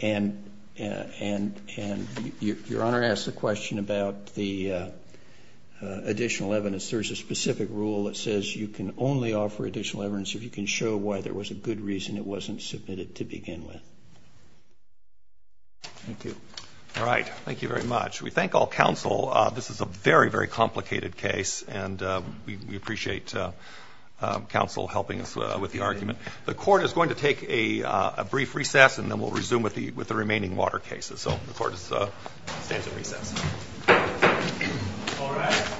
And Your Honor asks a question about the additional evidence. There's a specific rule that says you can only offer additional evidence if you can show why there was a good reason it wasn't submitted to begin with. Thank you. All right. Thank you very much. We thank all counsel. This is a very, very complicated case, and we appreciate counsel helping us with the argument. The court is going to take a brief recess, and then we'll resume with the remaining water cases. So the court is at recess. All right.